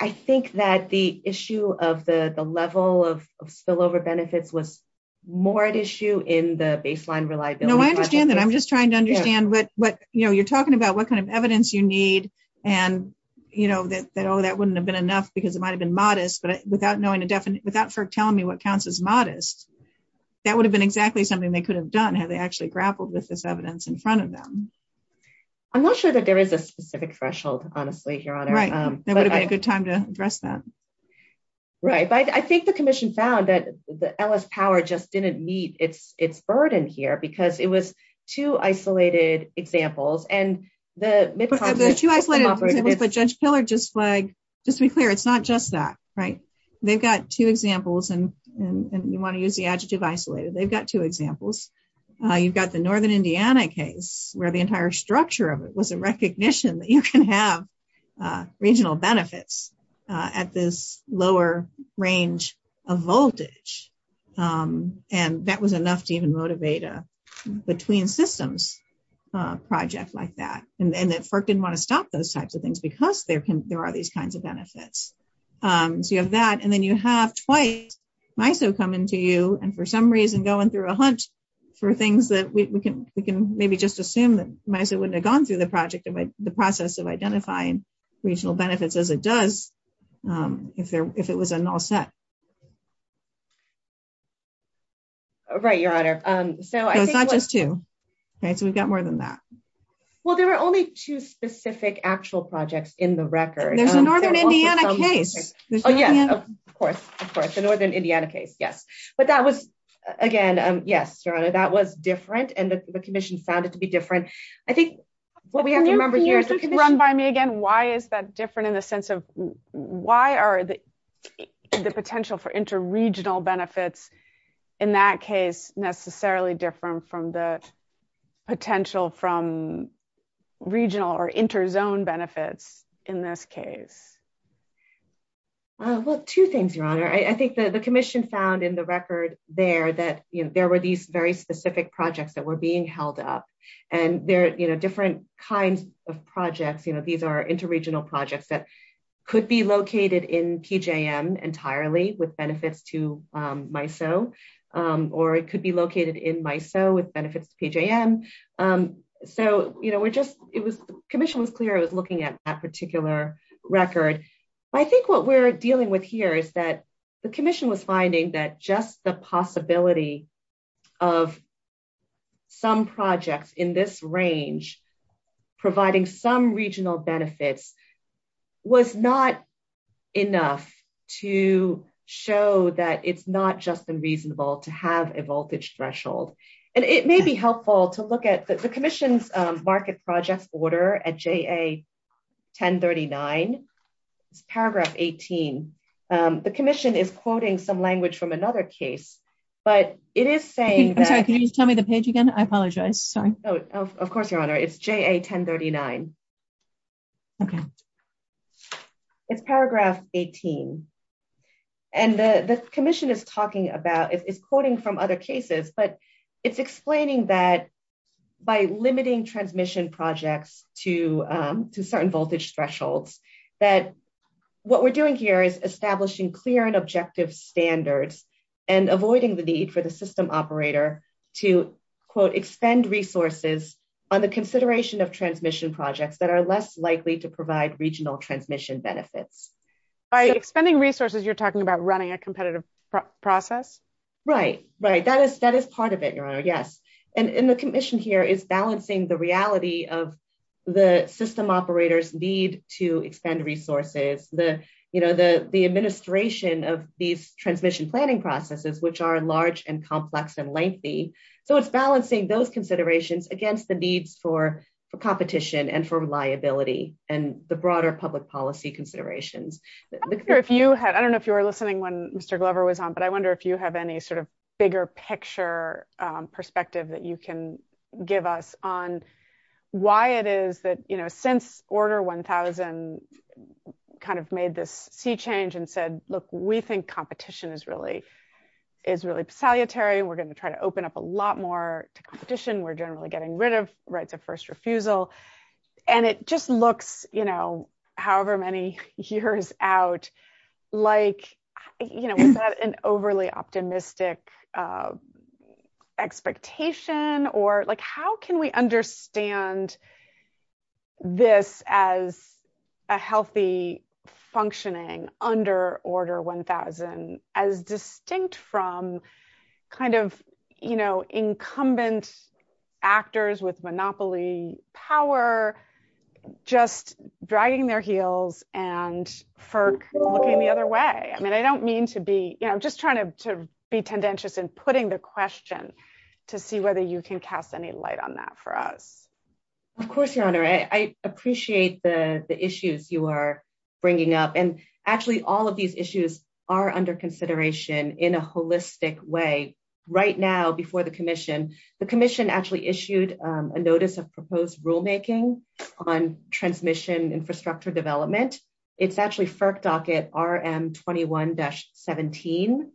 I think that the issue of the level of spillover benefits was more at issue in the baseline reliability question. No, I understand that. I'm just trying to understand what, you know, you're talking about what kind of evidence you need, and, you know, that, oh, that wouldn't have been enough because it might have been modest, but without knowing a definite, without FERC telling me what counts as modest, that would have been exactly something they could have done had they actually grappled with this evidence in front of them. I'm not sure that there is a specific threshold, honestly, Your Honor. Right, that would have been a good time to address that. Right, but I think the Commission found that the Ellis Power just didn't meet its burden here, because it was two isolated examples, and the- But the two isolated, if a judge killer just flagged, just be clear, it's not just that, right? They've got two examples, and you want to use the adjective isolated. They've got two examples. You've got the Northern Indiana case, where the entire structure of it was a recognition that you can have regional benefits at this lower range of voltage, and that was enough to even motivate a between systems project like that, and that FERC didn't want to stop those types of things, because there are these kinds of benefits. So you have that, and then you have twice MISO coming to you, and for some reason, going through a hunch for things that we can maybe just assume that MISO wouldn't have gone through the process of identifying regional benefits as it does if it was a null set. Right, Your Honor. So I think- So it's not just two. Okay, so we've got more than that. Well, there were only two specific actual projects in the record. There's a Northern Indiana case. Oh, yes, of course, of course. The Northern Indiana case, yes. But that was, again, yes, Your Honor, that was different, and the commission found it to be different. I think what we have to remember here- Can you run by me again? Why is that different in the sense of, why are the potential for inter-regional benefits in that case necessarily different from the potential from regional or inter-zone benefits in this case? Well, two things, Your Honor. I think the commission found in the record there that there were these very specific projects that were being held up, and they're different kinds of projects. These are inter-regional projects that could be located in PJM entirely with benefits to MISO, or it could be located in MISO with benefits to PJM. Commission was clear it was looking at that particular record. But I think what we're dealing with here is that the commission was finding that just the possibility of some projects in this range providing some regional benefits was not enough to show that it's not just unreasonable to have a voltage threshold. And it may be helpful to look at the commission's market project order at JA-1039, paragraph 18. The commission is quoting some language from another case, but it is saying that- Can you tell me the page again? I apologize. Sorry. Of course, Your Honor. It's JA-1039. Okay. It's paragraph 18. And the commission is talking about- It's quoting from other cases, but it's explaining that by limiting transmission projects to certain voltage thresholds, that what we're doing here is establishing clear and objective standards and avoiding the need for the system operator to, quote, extend resources on the consideration of transmission projects that are less likely to provide regional transmission benefits. By extending resources, you're talking about running a competitive process? Right. Right. That is part of it, Your Honor. Yes. And the commission here is balancing the reality of the system operators need to extend resources, the administration of these transmission planning processes, which are large and complex and lengthy. So it's balancing those considerations against the need for competition and for reliability and the broader public policy considerations. I don't know if you were listening when Mr. Glover was on, but I wonder if you have any sort of bigger picture perspective that you can give us on why it is that, you know, since Order 1000 kind of made this sea change and said, look, we think competition is really salutary. We're going to try to open up a lot more to competition. We're generally getting rid of, right, the first refusal. And it just looks, you know, however many years out, like, you know, is that an overly optimistic expectation or like, how can we understand this as a healthy functioning under Order 1000 as distinct from kind of, you know, incumbent actors with monopoly power, just dragging their heels and FERC looking the other way? I mean, I don't mean to be, you know, just trying to be tendentious in putting the question to see whether you can cast any light on that for us. Of course, Your Honor. I appreciate the issues you are bringing up. And actually all of these issues are under consideration in a holistic way. Right now, before the commission, the commission actually issued a notice of proposed rulemaking on transmission infrastructure development. It's actually FERC docket RM21-17.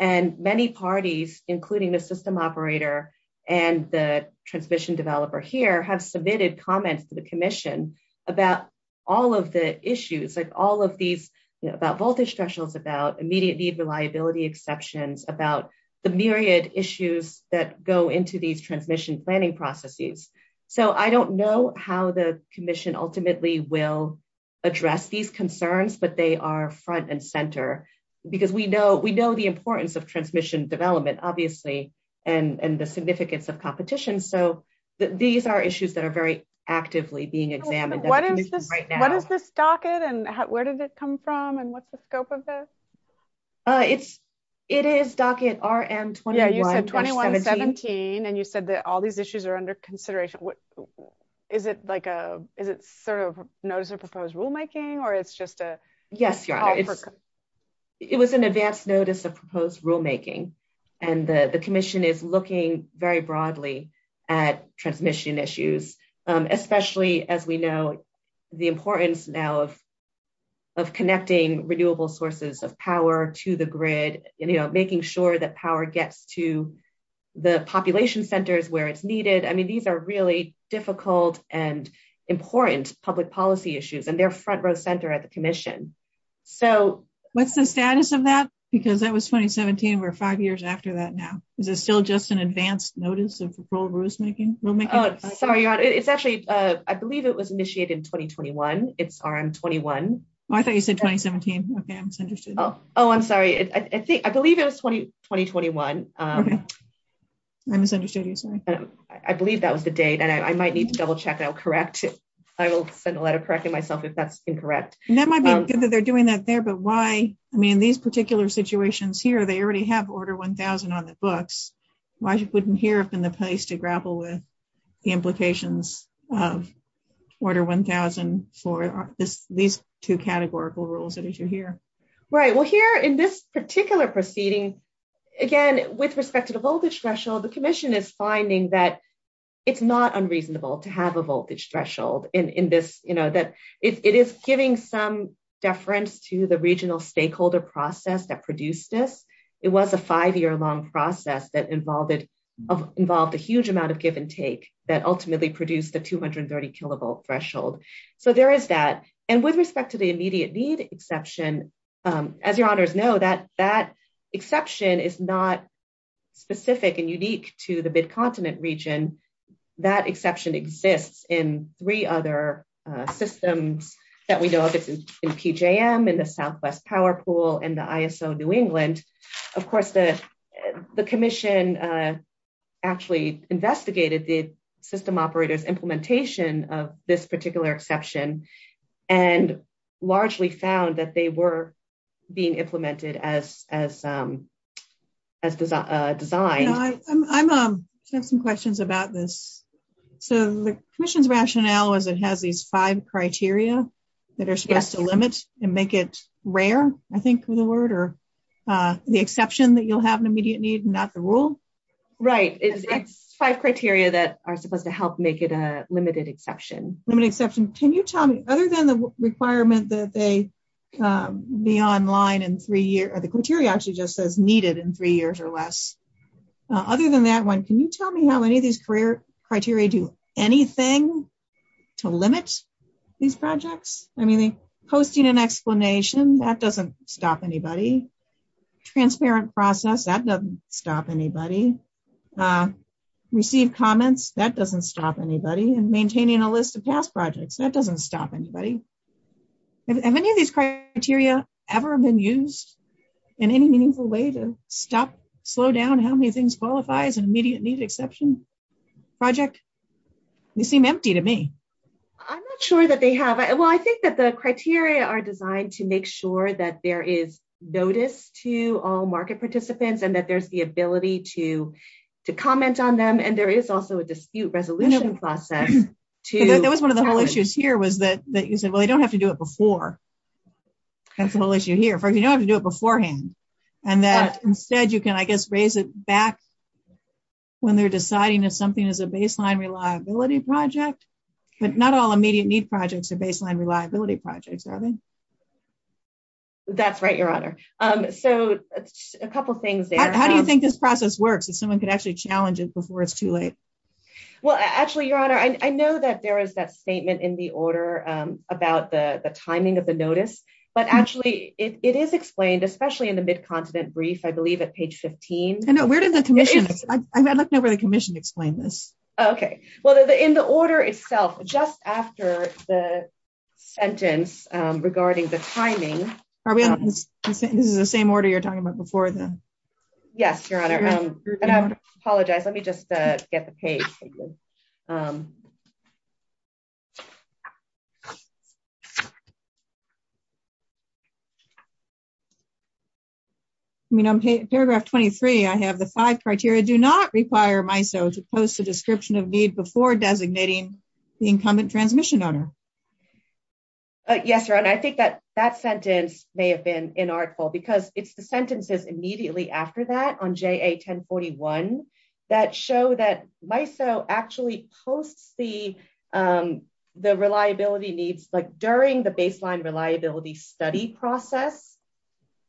And many parties, including the system operator and the transmission developer here, have submitted comments to the commission about all of the issues, like all of these, about voltage thresholds, about immediate need reliability exceptions, about the myriad issues that go into these transmission planning processes. So I don't know how the commission ultimately will address these concerns, but they are front and center because we know the importance of transmission development, obviously, and the significance of competition. So these are issues that are very actively being examined. What is this docket? And where did it come from? And what's the scope of this? It's it is docket RM21-17. And you said that all these issues are under consideration. What is it like? Is it sort of notice of proposed rulemaking or it's just a yes. It was an advance notice of proposed rulemaking, and the commission is looking very broadly at transmission issues, especially as we know the importance now of connecting renewable sources of power to the grid, making sure that power gets to the population centers where it's needed. I mean, these are really difficult and important public policy issues and they're front row center at the commission. So what's the status of that? Because that was 2017. We're five years after that now. Is it still just an advance notice of proposed rulemaking? Sorry, it's actually, I believe it was initiated in 2021. It's RM21. I thought you said 2017. Okay, I misunderstood. Oh, I'm sorry. I believe it was 2021. I misunderstood you, sorry. I believe that was the date and I might need to double check and I'll correct it. I will send a letter correcting myself if that's incorrect. And that might be good that they're doing that there, but why, I mean, these particular situations here, they already have order 1000 on the books. Why just put them here up in the place to grapple with the implications of order 1000 for these two categorical rules that you hear? Right, well here in this particular proceeding, again, with respect to the voltage threshold, the commission is finding that it's not unreasonable to have a voltage threshold in this, you know, that it is giving some deference to the regional stakeholder process that produced this. It was a five year long process that involved a huge amount of give and take that ultimately produced the 230 kilovolt threshold. So there is that. And with respect to the immediate need, exception, as your honors know, that that exception is not specific and unique to the bit continent region. That exception exists in three other systems that we know of in PJM and the Southwest Power Pool and the ISO New England. Of course, the commission actually investigated the system operator's implementation of this particular exception and largely found that they were being implemented as a design. I have some questions about this. So the commission's rationale is it has these five criteria that are supposed to limit and make it rare, I think the word, or the exception that you'll have an immediate need and not the rule. Right, it's five criteria that are supposed to help make it a limited exception. Limited exception. Can you tell me, other than the requirement that they be online in three years, or the criteria actually just says needed in three years or less. Other than that one, can you tell me how many of these criteria do anything to limit these projects? I mean, posting an explanation, that doesn't stop anybody. Transparent process, that doesn't stop anybody. Received comments, that doesn't stop anybody. And maintaining a list of task projects, that doesn't stop anybody. Have any of these criteria ever been used in any meaningful way to slow down how many things qualify as an immediate need exception project? They seem empty to me. I'm not sure that they have. Well, I think that the criteria are designed to make sure that there is notice to all market participants and that there's the ability to comment on them. And there is also a dispute resolution process to- That was one of the whole issues here was that you said, well, you don't have to do it before. That's the whole issue here. You don't have to do it beforehand. And that instead, you can, I guess, raise it back when they're deciding that something is a baseline reliability project. But not all immediate need projects are baseline reliability projects, are they? That's right, Your Honor. So a couple of things there. How do you think this process works if someone could actually challenge it before it's too late? Well, actually, Your Honor, I know that there is that statement in the order about the timing of the notice. But actually, it is explained, especially in the Mid-Continent brief, I believe, at page 15. I know, where did the commission- I looked over to the commission to explain this. Okay. Well, in the order itself, just after the sentence regarding the timing- Are we on the same order you're talking about before then? Yes, Your Honor. And I apologize. Let me just get the page. Okay. I mean, on paragraph 23, I have the five criteria. Do not require MISO to post a description of need before designating the incumbent transmission owner. Yes, Your Honor. I think that sentence may have been inarticulable because it's the sentences immediately after that on JA-1041 that show that MISO actually posts the reliability needs during the baseline reliability study process.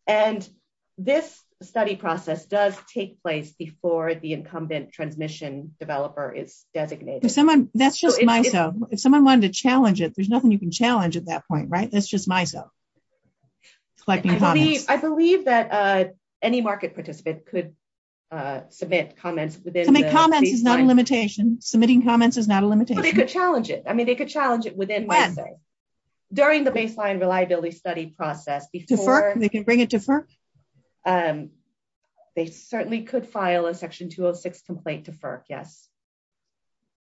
And this study process does take place before the incumbent transmission developer is designated. If someone- That's just MISO. If someone wanted to challenge it, there's nothing you can challenge at that point, right? That's just MISO. I believe that any market participant could submit comments within- Submitting comments is not a limitation. Submitting comments is not a limitation. But they could challenge it. I mean, they could challenge it within MISO. During the baseline reliability study process, before- To FERC? We can bring it to FERC? They certainly could file a section 206 complaint to FERC, yes.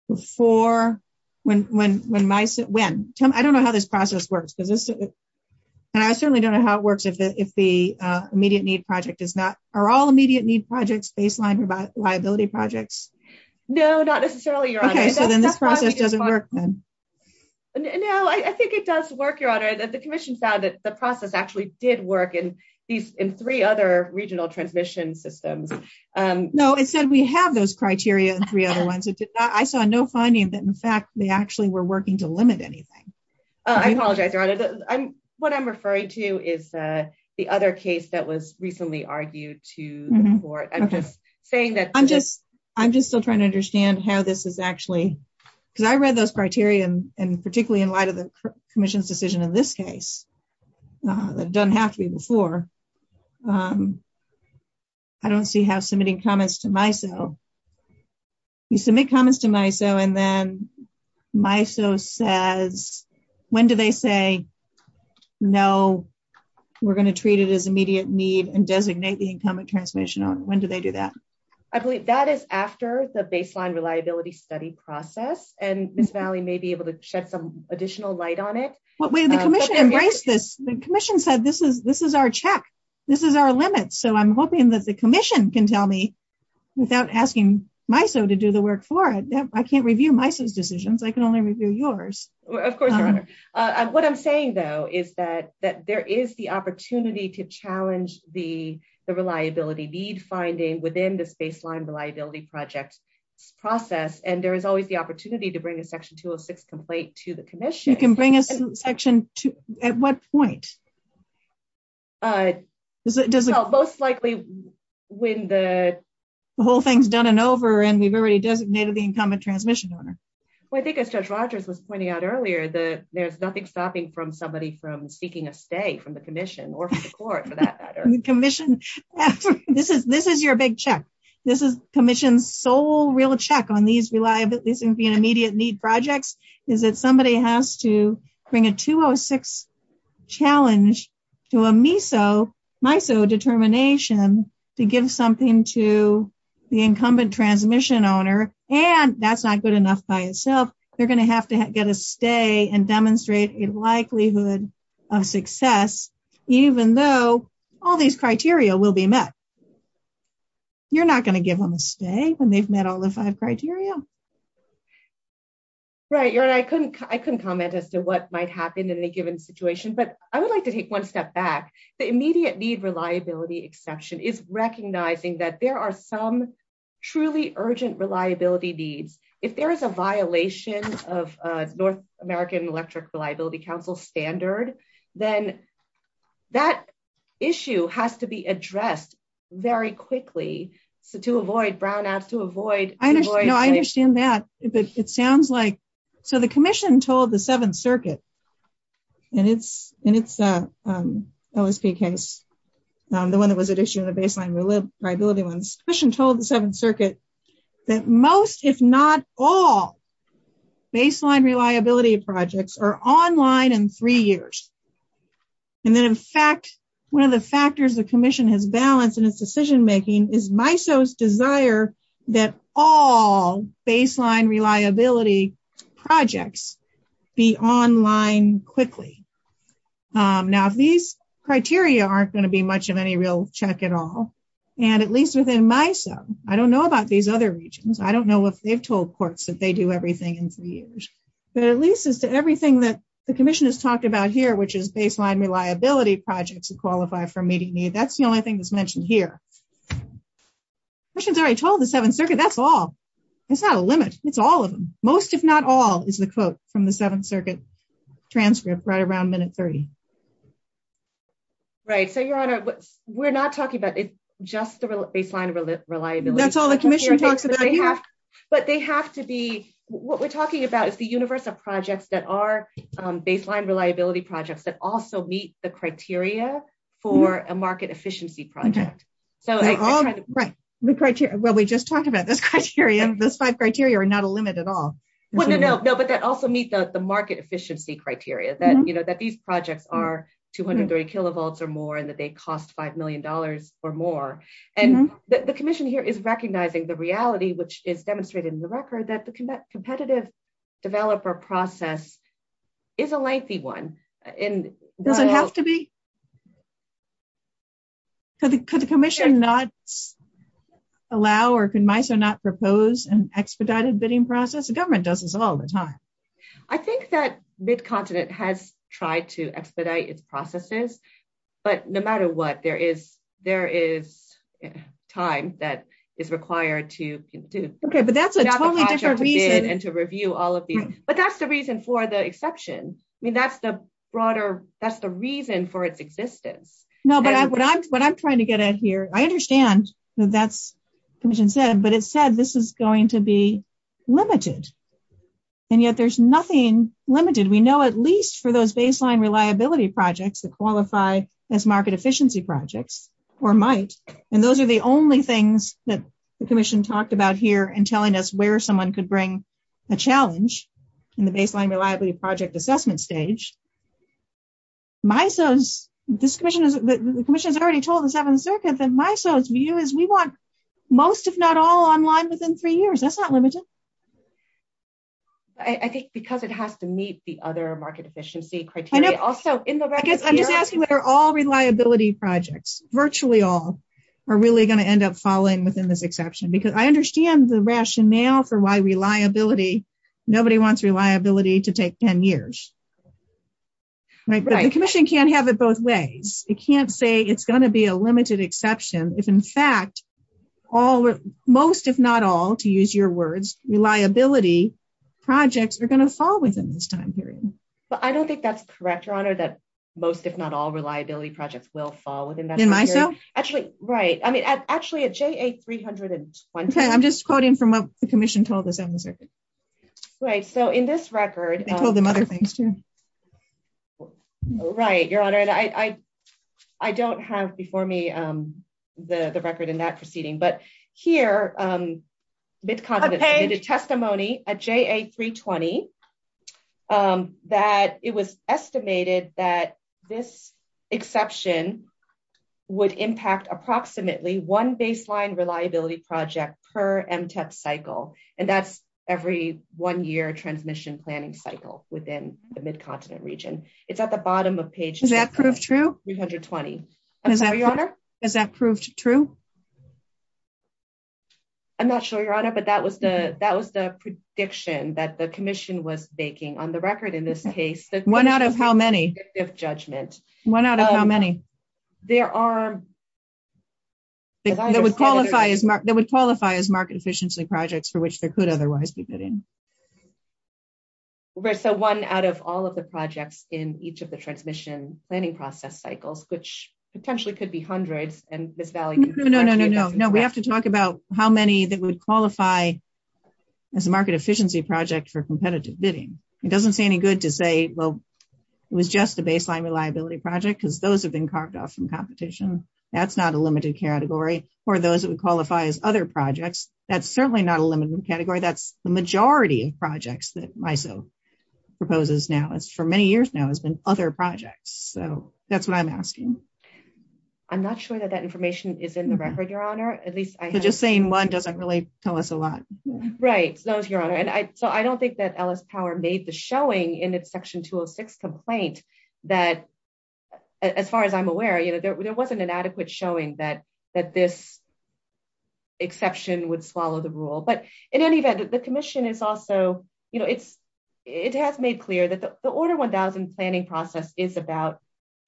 Before when MISO- When? I don't know how this process works. And I certainly don't know how it works if the immediate need project is not- Are all immediate need projects baseline reliability projects? No, not necessarily, Your Honor. Okay, so then this process doesn't work then. No, I think it does work, Your Honor. The commission found that the process actually did work in these- in three other regional transmission systems. No, it said we have those criteria in three other ones. I saw no finding that, in fact, they actually were working to limit anything. I apologize, Your Honor. What I'm referring to is the other case that was recently argued to the court. Saying that- I'm just still trying to understand how this is actually- because I read those criteria and particularly in light of the commission's decision in this case. It doesn't have to be before. I don't see how submitting comments to MISO- You submit comments to MISO and then MISO says- When do they say, no, we're going to treat it as immediate need and designate the incumbent transmission on it. When do they do that? I believe that is after the baseline reliability study process and Miss Valley may be able to shed some additional light on it. But when the commission embraced this, the commission said, this is our check. This is our limit. So I'm hoping that the commission can tell me without asking MISO to do the work for it. I can't review MISO's decisions. I can only review yours. Of course, Your Honor. What I'm saying, though, is that there is the opportunity to challenge the reliability need finding within the baseline reliability project process. And there is always the opportunity to bring a section 206 complaint to the commission. You can bring a section to- At what point? Most likely when the- The whole thing's done and over and we've already designated the incumbent transmission on it. Well, I think as Judge Rogers was pointing out earlier, there's nothing stopping somebody from speaking of stay from the commission or from the court for that matter. Commission, this is your big check. This is commission's sole real check on these reliability and immediate need projects is that somebody has to bring a 206 challenge to a MISO determination to give something to the incumbent transmission owner. And that's not good enough by itself. They're going to have to get a stay and demonstrate a likelihood of success even though all these criteria will be met. You're not going to give them a stay when they've met all the five criteria. Right, I couldn't comment as to what might happen in a given situation, but I would like to take one step back. The immediate need reliability exception is recognizing that there are some truly urgent reliability needs. If there is a violation of North American Electric Reliability Council standard, then that issue has to be addressed very quickly to avoid brownouts to avoid. I understand that it sounds like so the commission told the Seventh Circuit and it's OSP case, the one that was at issue in the baseline reliability ones. Commission told the Seventh Circuit that most if not all baseline reliability projects are online in three years. And in fact, one of the factors the commission has balanced in its decision making is MISO's desire that all baseline reliability projects be online quickly. Now, these criteria aren't going to be much of any real check at all. And at least within MISO, I don't know what they've told courts that they do everything in three years. But at least as to everything that the commission has talked about here, which is baseline reliability projects who qualify for meeting need, that's the only thing that's mentioned here. Commission's already told the Seventh Circuit that's all. It's not a limit. It's all of them. Most if not all is the quote from the Seventh Circuit transcript right around minute 30. Right. So, Your Honor, we're not talking about it's just the baseline reliability. That's all the commission talks about. But they have to be, what we're talking about is the universe of projects that are baseline reliability projects that also meet the criteria for a market efficiency project. Well, we just talked about this criteria. Those five criteria are not a limit at all. No, no, no. But that also meet the market efficiency criteria that these projects are 230 kilovolts or more and that they cost $5 million or more. And the commission here is recognizing the reality, which is demonstrated in the record, that the competitive developer process is a lengthy one. Does it have to be? Could the commission not allow or can MISA not propose an expedited bidding process? The government does this all the time. I think that mid-continent has tried to expedite its processes. But no matter what, there is time that is required to do. Okay, but that's the only reason. And to review all of these. But that's the reason for the exception. I mean, that's the broader, that's the reason for its existence. No, but what I'm trying to get at here, I understand that's what the commission said, but it said this is going to be limited. And yet there's nothing limited. We know at least for those baseline reliability projects that qualify as market efficiency projects or might. And those are the only things that the commission talked about here in telling us where someone could bring a challenge in the baseline reliability project assessment stage. MISA, the commission has already told the Seventh Circuit that MISA's view is we want most, if not all, online within three years. That's not limited. I think because it has to meet the other market efficiency criteria. Also in the record. I guess I'm just asking whether all reliability projects, virtually all, are really going to end up falling within this exception. I understand the rationale for why nobody wants reliability to take 10 years. The commission can't have it both ways. It can't say it's going to be a limited exception. If in fact, most, if not all, to use your words, reliability projects are going to fall within this time period. I don't think that's correct, Your Honor, that most, if not all, reliability projects will fall within that time period. Actually, right. I'm just quoting from what the commission told the Seventh Circuit. So in this record... They told them other things, too. Right, Your Honor. I don't have before me the record in that proceeding. But here, Ms. Condon submitted a testimony at JA320 that it was estimated that this exception would impact approximately one baseline reliability project per MTES cycle. And that's every one year transmission planning cycle within the Mid-Continent region. It's at the bottom of page... Does that prove true? JA320. Your Honor? Does that prove true? I'm not sure, Your Honor, but that was the prediction that the commission was making on the record in this case. One out of how many? One out of how many? There are... That would qualify as market efficiency projects for which there could otherwise be bidding. So one out of all of the projects in each of the transmission planning process cycles, which potentially could be hundreds and misvalued. No, no, no, no, no. We have to talk about how many that would qualify as a market efficiency project for competitive bidding. It doesn't say any good to say, well, it was just the baseline reliability project because those have been carved off from competition. That's not a limited category for those that would qualify as other projects. That's certainly not a limited category. That's the majority of projects that MISO proposes now. It's for many years now, it's been other projects. So that's what I'm asking. I'm not sure that that information is in the record, Your Honor. At least I... Just saying one doesn't really tell us a lot. Right. So I don't think that Ellis Power made the showing in the Section 206 complaint that as far as I'm aware, you know, there wasn't an adequate showing that this exception would follow the rule. But in any event, the commission is also, you know, it has made clear that the Order 1000 planning process is about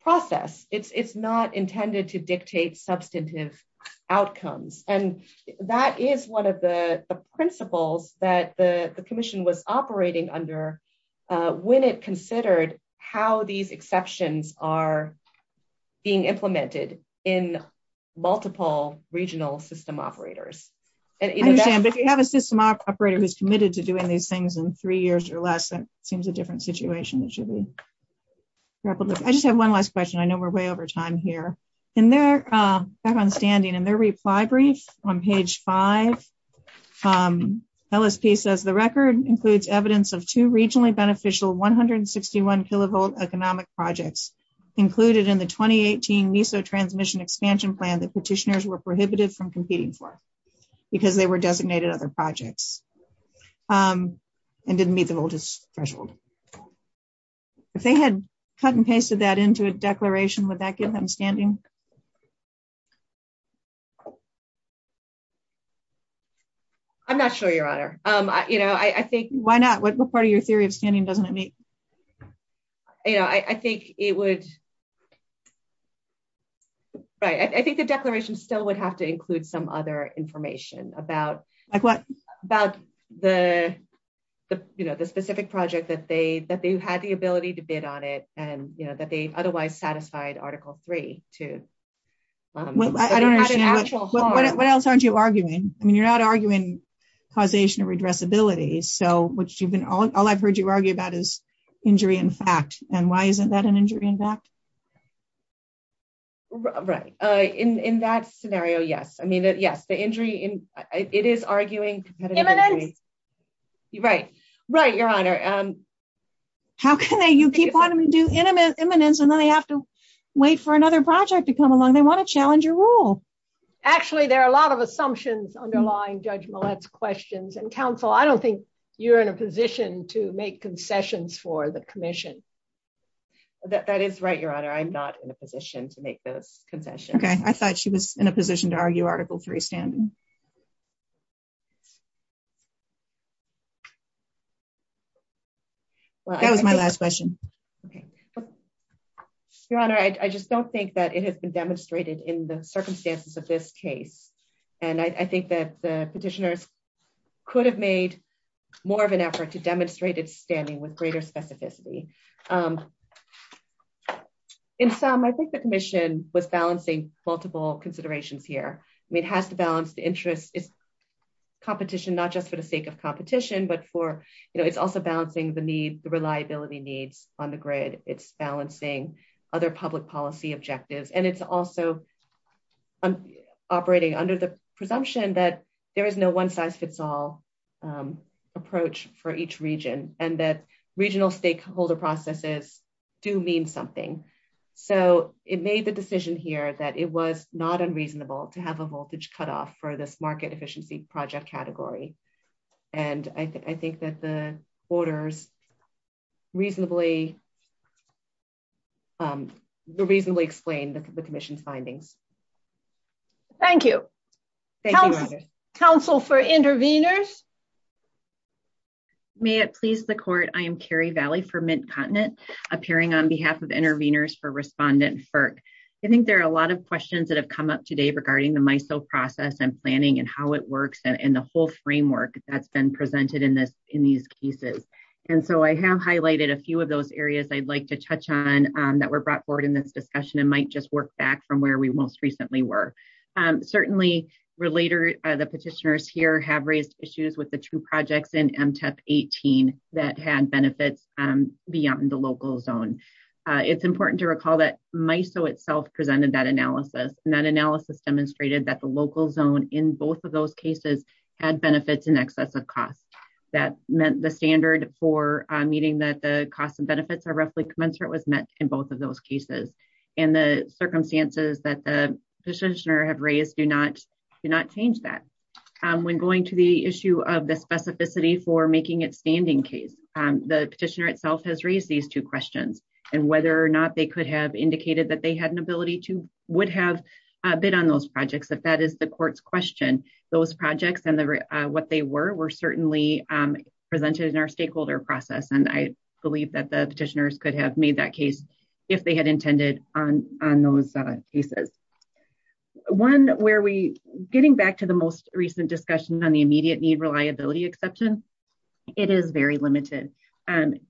process. It's not intended to dictate substantive outcomes. And that is one of the principles that the commission was operating under when it considered how these exceptions are being implemented in multiple regional system operators. If you have a system operator who's committed to doing these things in three years or less, that seems a different situation. I just have one last question. I know we're way over time here. In their, back on standing, in their reply brief on page five, LSP says the record includes evidence of two regionally beneficial 161 kilovolt economic projects included in the 2018 NISO transmission expansion plan that petitioners were prohibited from competing for because they were designated other projects and didn't meet the religious threshold. If they had cut and pasted that into a declaration, would that give them standing? I'm not sure, Your Honor. You know, I think, why not? What part of your theory of standing doesn't that make? You know, I think it would, right, I think the declaration still would have to include some other information about- Like what? About the, you know, the specific project that they, that they had the ability to bid on it and, you know, that they otherwise satisfied article three to- Well, I don't understand- What else aren't you arguing? I mean, you're not arguing causation of redressability. So, what you've been, all I've heard you argue about is injury in fact. And why isn't that an injury in fact? Right. In that scenario, yes. I mean, yes, the injury in, it is arguing- Imminent! Right, right, Your Honor. How can they? You keep wanting them to do imminent and then they have to wait for another project to come along. They want to challenge your rule. Actually, there are a lot of assumptions underlying Judge Millett's questions. And counsel, I don't think you're in a position to make confessions for the commission. That is right, Your Honor. I'm not in a position to make the confession. Okay, I thought she was in a position to argue article three standing. That was my last question. Your Honor, I just don't think that it has been demonstrated in the circumstances of this case. And I think that the petitioners could have made more of an effort to demonstrate its standing with greater specificity. In sum, I think the commission was balancing multiple considerations here. I mean, it has to balance the interest, its competition, not just for the sake of competition, but for, you know, it's also balancing the needs, the reliability needs on the grid. It's balancing other public policy objectives. And it's also operating under the presumption that there is no one-size-fits-all approach for each region and that regional stakeholder processes do mean something. So it made the decision here that it was not unreasonable to have a voltage cutoff for this market efficiency project category. And I think that the orders reasonably, reasonably explained the commission's findings. Thank you. Thank you, Your Honor. Counsel for intervenors. May it please the court. I am Carrie Valley for Mint Continent, appearing on behalf of intervenors for respondent FERC. I think there are a lot of questions that have come up today regarding the MISO process and planning and how it works and the whole framework that's been presented in these cases. And so I have highlighted a few of those areas I'd like to touch on that were brought forward in this discussion and might just work back from where we most recently were. Certainly, the petitioners here have raised issues with the two projects in MTEP 18 that had benefits beyond the local zone. It's important to recall that MISO itself presented that analysis and that analysis demonstrated that the local zone in both of those cases had benefits in excess of cost. That meant the standard for meeting that the cost and benefits are roughly commensurate with net in both of those cases. And the circumstances that the petitioner have raised do not change that. When going to the issue of the specificity for making a standing case, the petitioner itself has raised these two questions and whether or not they could have indicated that they had an ability to would have been on those projects if that is the court's question. Those projects and what they were were certainly presented in our stakeholder process. And I believe that the petitioners could have made that case if they had intended on those cases. One where we getting back to the most recent discussion on the immediate need reliability exception, it is very limited. And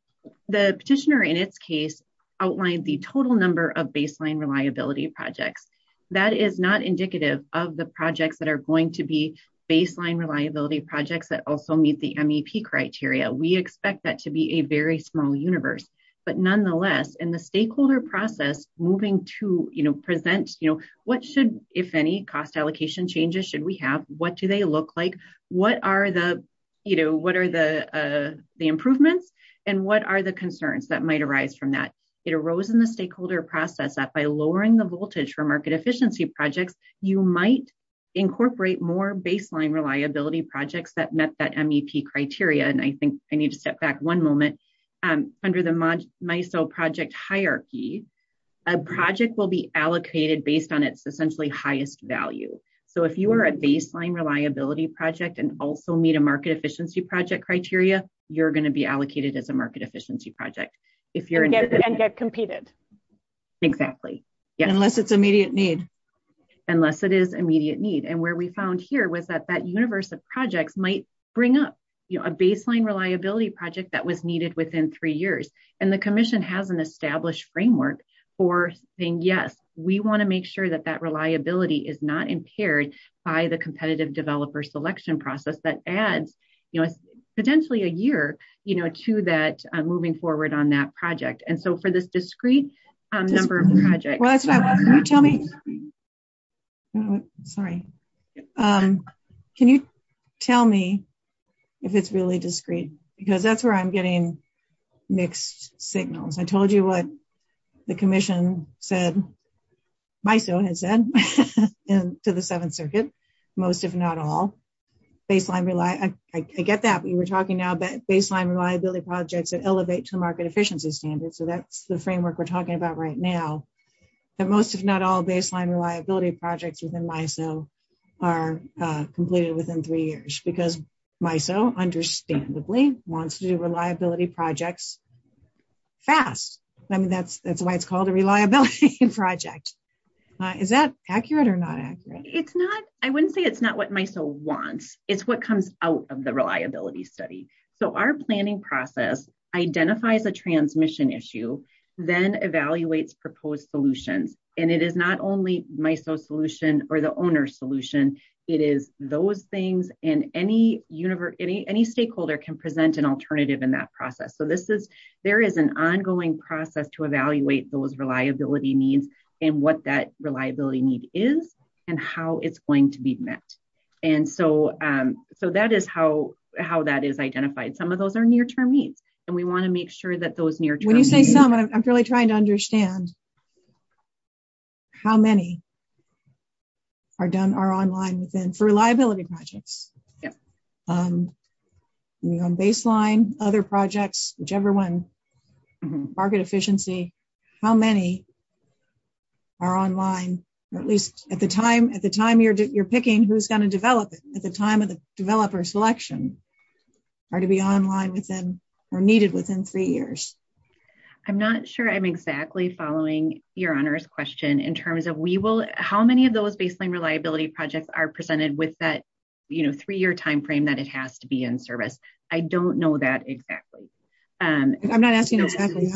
the petitioner in its case outlined the total number of baseline reliability projects. That is not indicative of the projects that are going to be baseline reliability projects that also meet the MEP criteria. We expect that to be a very small universe. But nonetheless, in the stakeholder process, moving to present, what should, if any, cost allocation changes should we have? What do they look like? What are the improvements? And what are the concerns that might arise from that? It arose in the stakeholder process that by lowering the voltage for market efficiency projects, you might incorporate more baseline reliability projects that met that MEP criteria. And I think I need to step back one moment under the project hierarchy. A project will be allocated based on its essentially highest value. So if you are a baseline reliability project and also meet a market efficiency project criteria, you're going to be allocated as a market efficiency project. If you're going to get competed. Exactly. Unless it's immediate need. Unless it is immediate need. And where we found here was that that universe of projects might bring up a baseline reliability project that was needed within three years. And the commission has an established framework for saying, yes, we want to make sure that that reliability is not impaired by the competitive developer selection process that adds potentially a year to that moving forward on that project. And so for this discrete number of projects. Well, can you tell me? Sorry. Can you tell me if it's really discrete? Because that's where I'm getting mixed signals. I told you what the commission said. MISO has said and to the Seventh Circuit, most, if not all, baseline, I get that we were talking now that baseline reliability projects that elevate to market efficiency standards. So that's the framework we're talking about right now. But most, if not all, baseline reliability projects within MISO are completed within three years because MISO understandably wants to do reliability projects fast. I mean, that's why it's called a reliability project. Is that accurate or not accurate? It's not. I wouldn't say it's not what MISO wants. It's what comes out of the reliability study. So our planning process identifies a transmission issue, then evaluates proposed solutions. And it is not only MISO's solution or the owner's solution. It is those things and any stakeholder can present an alternative in that process. So this is there is an ongoing process to evaluate those reliability needs and what that reliability need is and how it's going to be met. And so that is how that is identified. Some of those are near-term needs. And we want to make sure that those near-term needs... When you say some, I'm really trying to understand how many are done, are online within reliability projects. Yeah. You know, on baseline, other projects, whichever one, market efficiency, how many are online, at least at the time at the time you're picking who's going to develop it at the time of the developer selection are to be online within or needed within three years. I'm not sure I'm exactly following your honor's question in terms of we will... How many of those baseline reliability projects are presented with that, you know, three-year time frame that it has to be in service? I don't know that exactly. I'm not asking exactly.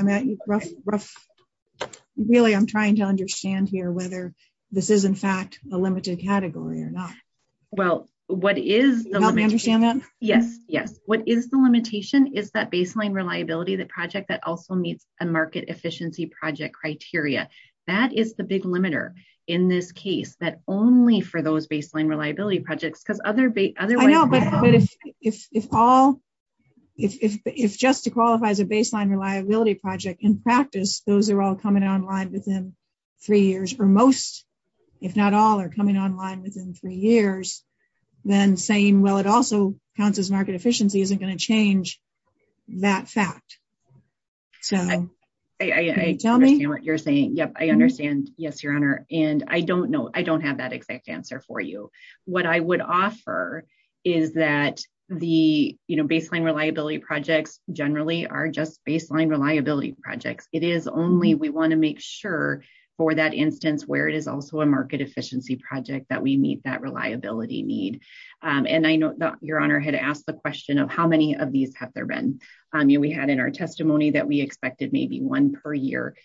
Really, I'm trying to understand here whether this is, in fact, a limited category or not. Well, what is... Do you understand that? Yes. Yes. What is the limitation is that baseline reliability, the project that also meets a market efficiency project criteria. That is the big limiter in this case, that only for those baseline reliability projects because other... I know, but it's all... If just to qualify as a baseline reliability project in practice, those are all coming online within three years for most, if not all, are coming online within three years, then saying, well, it also counts as market efficiency isn't going to change that fact. So... I understand what you're saying. Yep. I understand. Yes, your honor. And I don't know. I don't have that exact answer for you. What I would offer is that the, you know, baseline reliability projects generally are just baseline reliability projects. It is only we want to make sure for that instance where it is also a market efficiency project that we meet that reliability need. And I know that your honor had asked the question of how many of these have there been. We had in our testimony that we expected maybe one per year.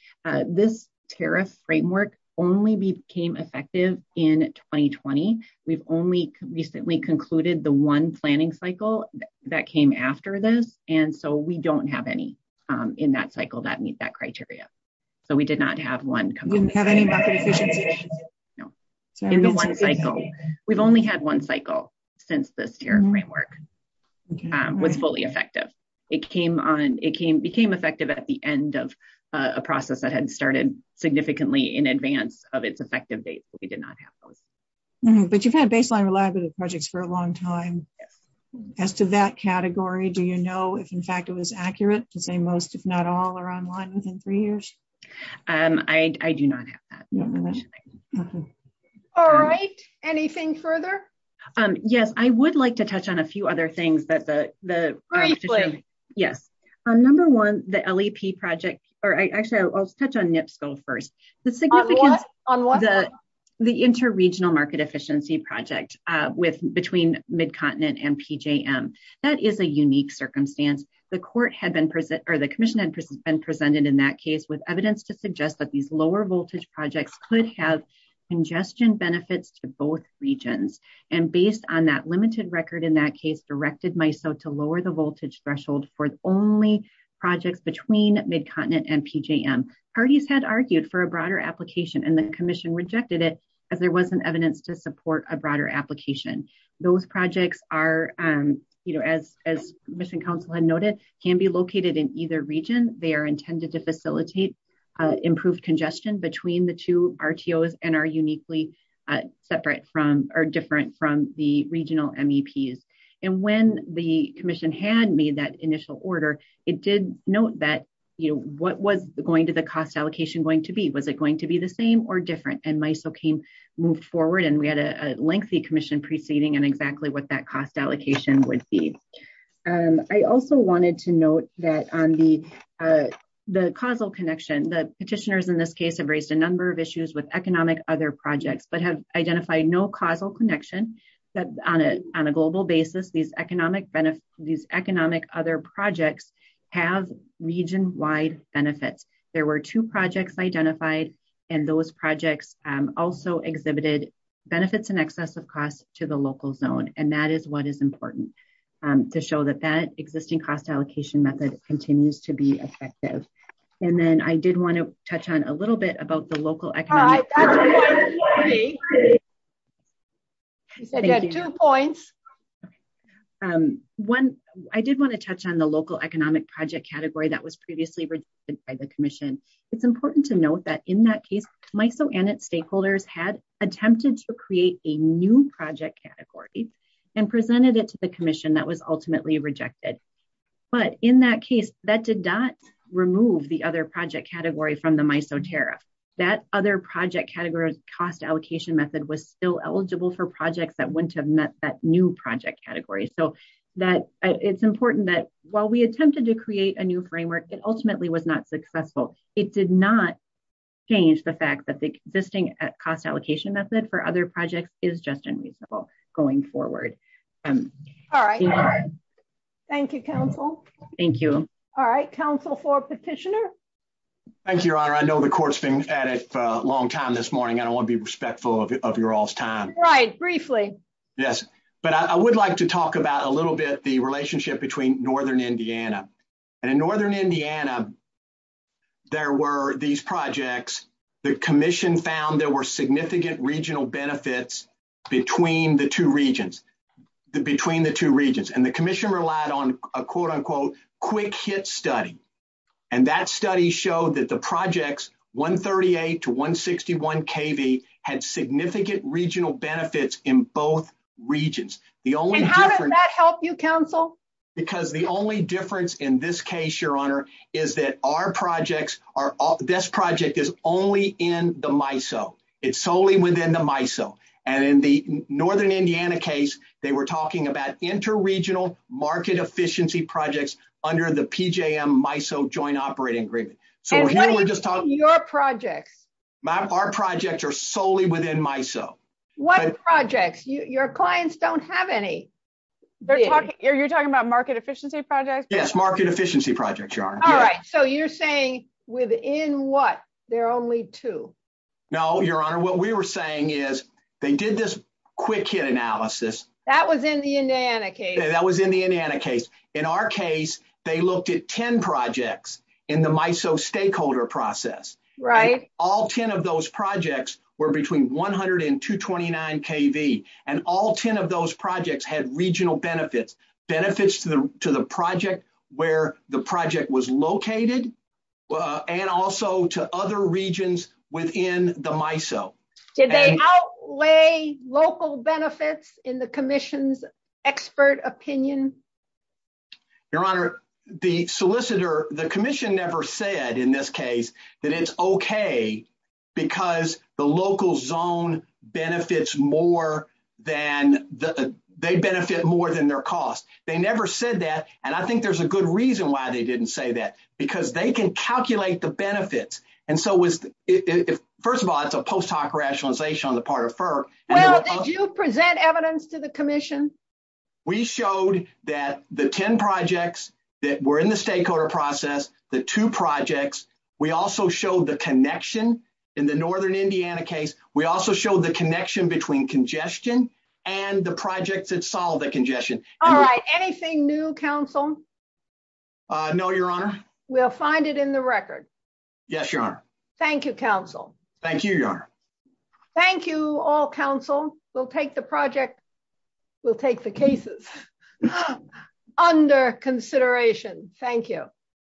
This tariff framework only became effective in 2020. We've only recently concluded the one planning cycle that came after this. And so we don't have any in that cycle that meets that criteria. So we did not have one. We've only had one cycle since the tariff framework was fully effective. It came on. It became effective at the end of a process that had started significantly in advance of its effective date. But you've had baseline reliability projects for a long time. As to that category, do you know if, in fact, it was accurate to say most, if not all, are online within three years? I do not have that. All right. Anything further? Yes. I would like to touch on a few other things. Yes. On number one, the LEP project or actually I'll touch on NIPSO first. The significance of the interregional market efficiency project between Mid-Continent and PJM. That is a unique circumstance. The court had been present or the commission had been presented in that case with evidence to suggest that these lower voltage projects could have congestion benefits to both regions. And based on that limited record in that case, directed MISO to lower the voltage threshold for only projects between Mid-Continent and PJM. Parties had argued for a broader application and the commission rejected it as there wasn't evidence to support a broader application. Those projects are, as mission council had noted, can be located in either region. They are intended to facilitate improved congestion between the two RTOs and are uniquely separate from or different from the regional MEPs. And when the commission had made that initial order, it did note that what was going to the cost allocation going to be? Was it going to be the same or different? And MISO came, moved forward and we had a lengthy commission proceeding and exactly what that cost allocation would be. I also wanted to note that on the causal connection, the petitioners in this case have raised a number of issues with economic other projects, but have identified no causal connection that on a global basis, these economic other projects have region wide benefits. There were two projects identified and those projects also exhibited benefits in excess of cost to the local zone. And that is what is important to show that that existing cost allocation method continues to be effective. And then I did want to touch on a little bit about the local economic. I have two points. One, I did want to touch on the local economic project category that was previously registered by the commission. It's important to note that in that case, MISO and its stakeholders had attempted to create a new project category and presented it to the commission that was ultimately rejected. But in that case, that did not remove the other project category from the MISO tariff. That other project category cost allocation method was still eligible for projects that wouldn't have met that new project category. So that it's important that while we attempted to create a new framework, it ultimately was not successful. It did not change the fact that the existing cost allocation method for other projects is just unreasonable going forward. All right. Thank you, counsel. Thank you. All right. Counsel for petitioner. Thank you, your honor. I know the court's been at it a long time this morning. I don't want to be respectful of your all's time. Right. Briefly. Yes. But I would like to talk about a little bit the relationship between northern Indiana and northern Indiana. There were these projects the commission found there were significant regional benefits between the two regions. Between the two regions and the commission relied on a quote unquote quick hit study. And that study showed that the projects 138 to 161 KB had significant regional benefits in both regions. The only how does that help you counsel? Because the only difference in this case, your honor, is that our projects are this project is only in the MISO. It's solely within the MISO. And in the northern Indiana case, they were talking about interregional market efficiency projects under the PJM MISO joint operating agreement. So we're just talking about your projects. Our projects are solely within MISO. What projects? Your clients don't have any. Are you talking about market efficiency projects? Yes, market efficiency projects, your honor. All right. So you're saying within what? There are only two. No, your honor. What we were saying is they did this quick analysis. That was in the Indiana case. That was in the Indiana case. In our case, they looked at 10 projects in the MISO stakeholder process. Right. All 10 of those projects were between 100 and 229 KB. And all 10 of those projects had regional benefits, benefits to the project where the project was located. And also to other regions within the MISO. Did they outlay local benefits in the commission's expert opinion? Your honor, the solicitor, the commission never said in this case that it's OK because the local zone benefits more than, they benefit more than their cost. They never said that. And I think there's a good reason why they didn't say that. Because they can calculate the benefits. And so it was, first of all, it's a post hoc rationalization on the part of FERC. Well, did you present evidence to the commission? We showed that the 10 projects that were in the stakeholder process, the two projects, we also showed the connection in the Northern Indiana case. We also showed the connection between congestion and the project that solved the congestion. All right. Anything new, counsel? No, your honor. We'll find it in the record. Yes, your honor. Thank you, counsel. Thank you, your honor. Thank you all, counsel. We'll take the project. We'll take the cases under consideration. Thank you.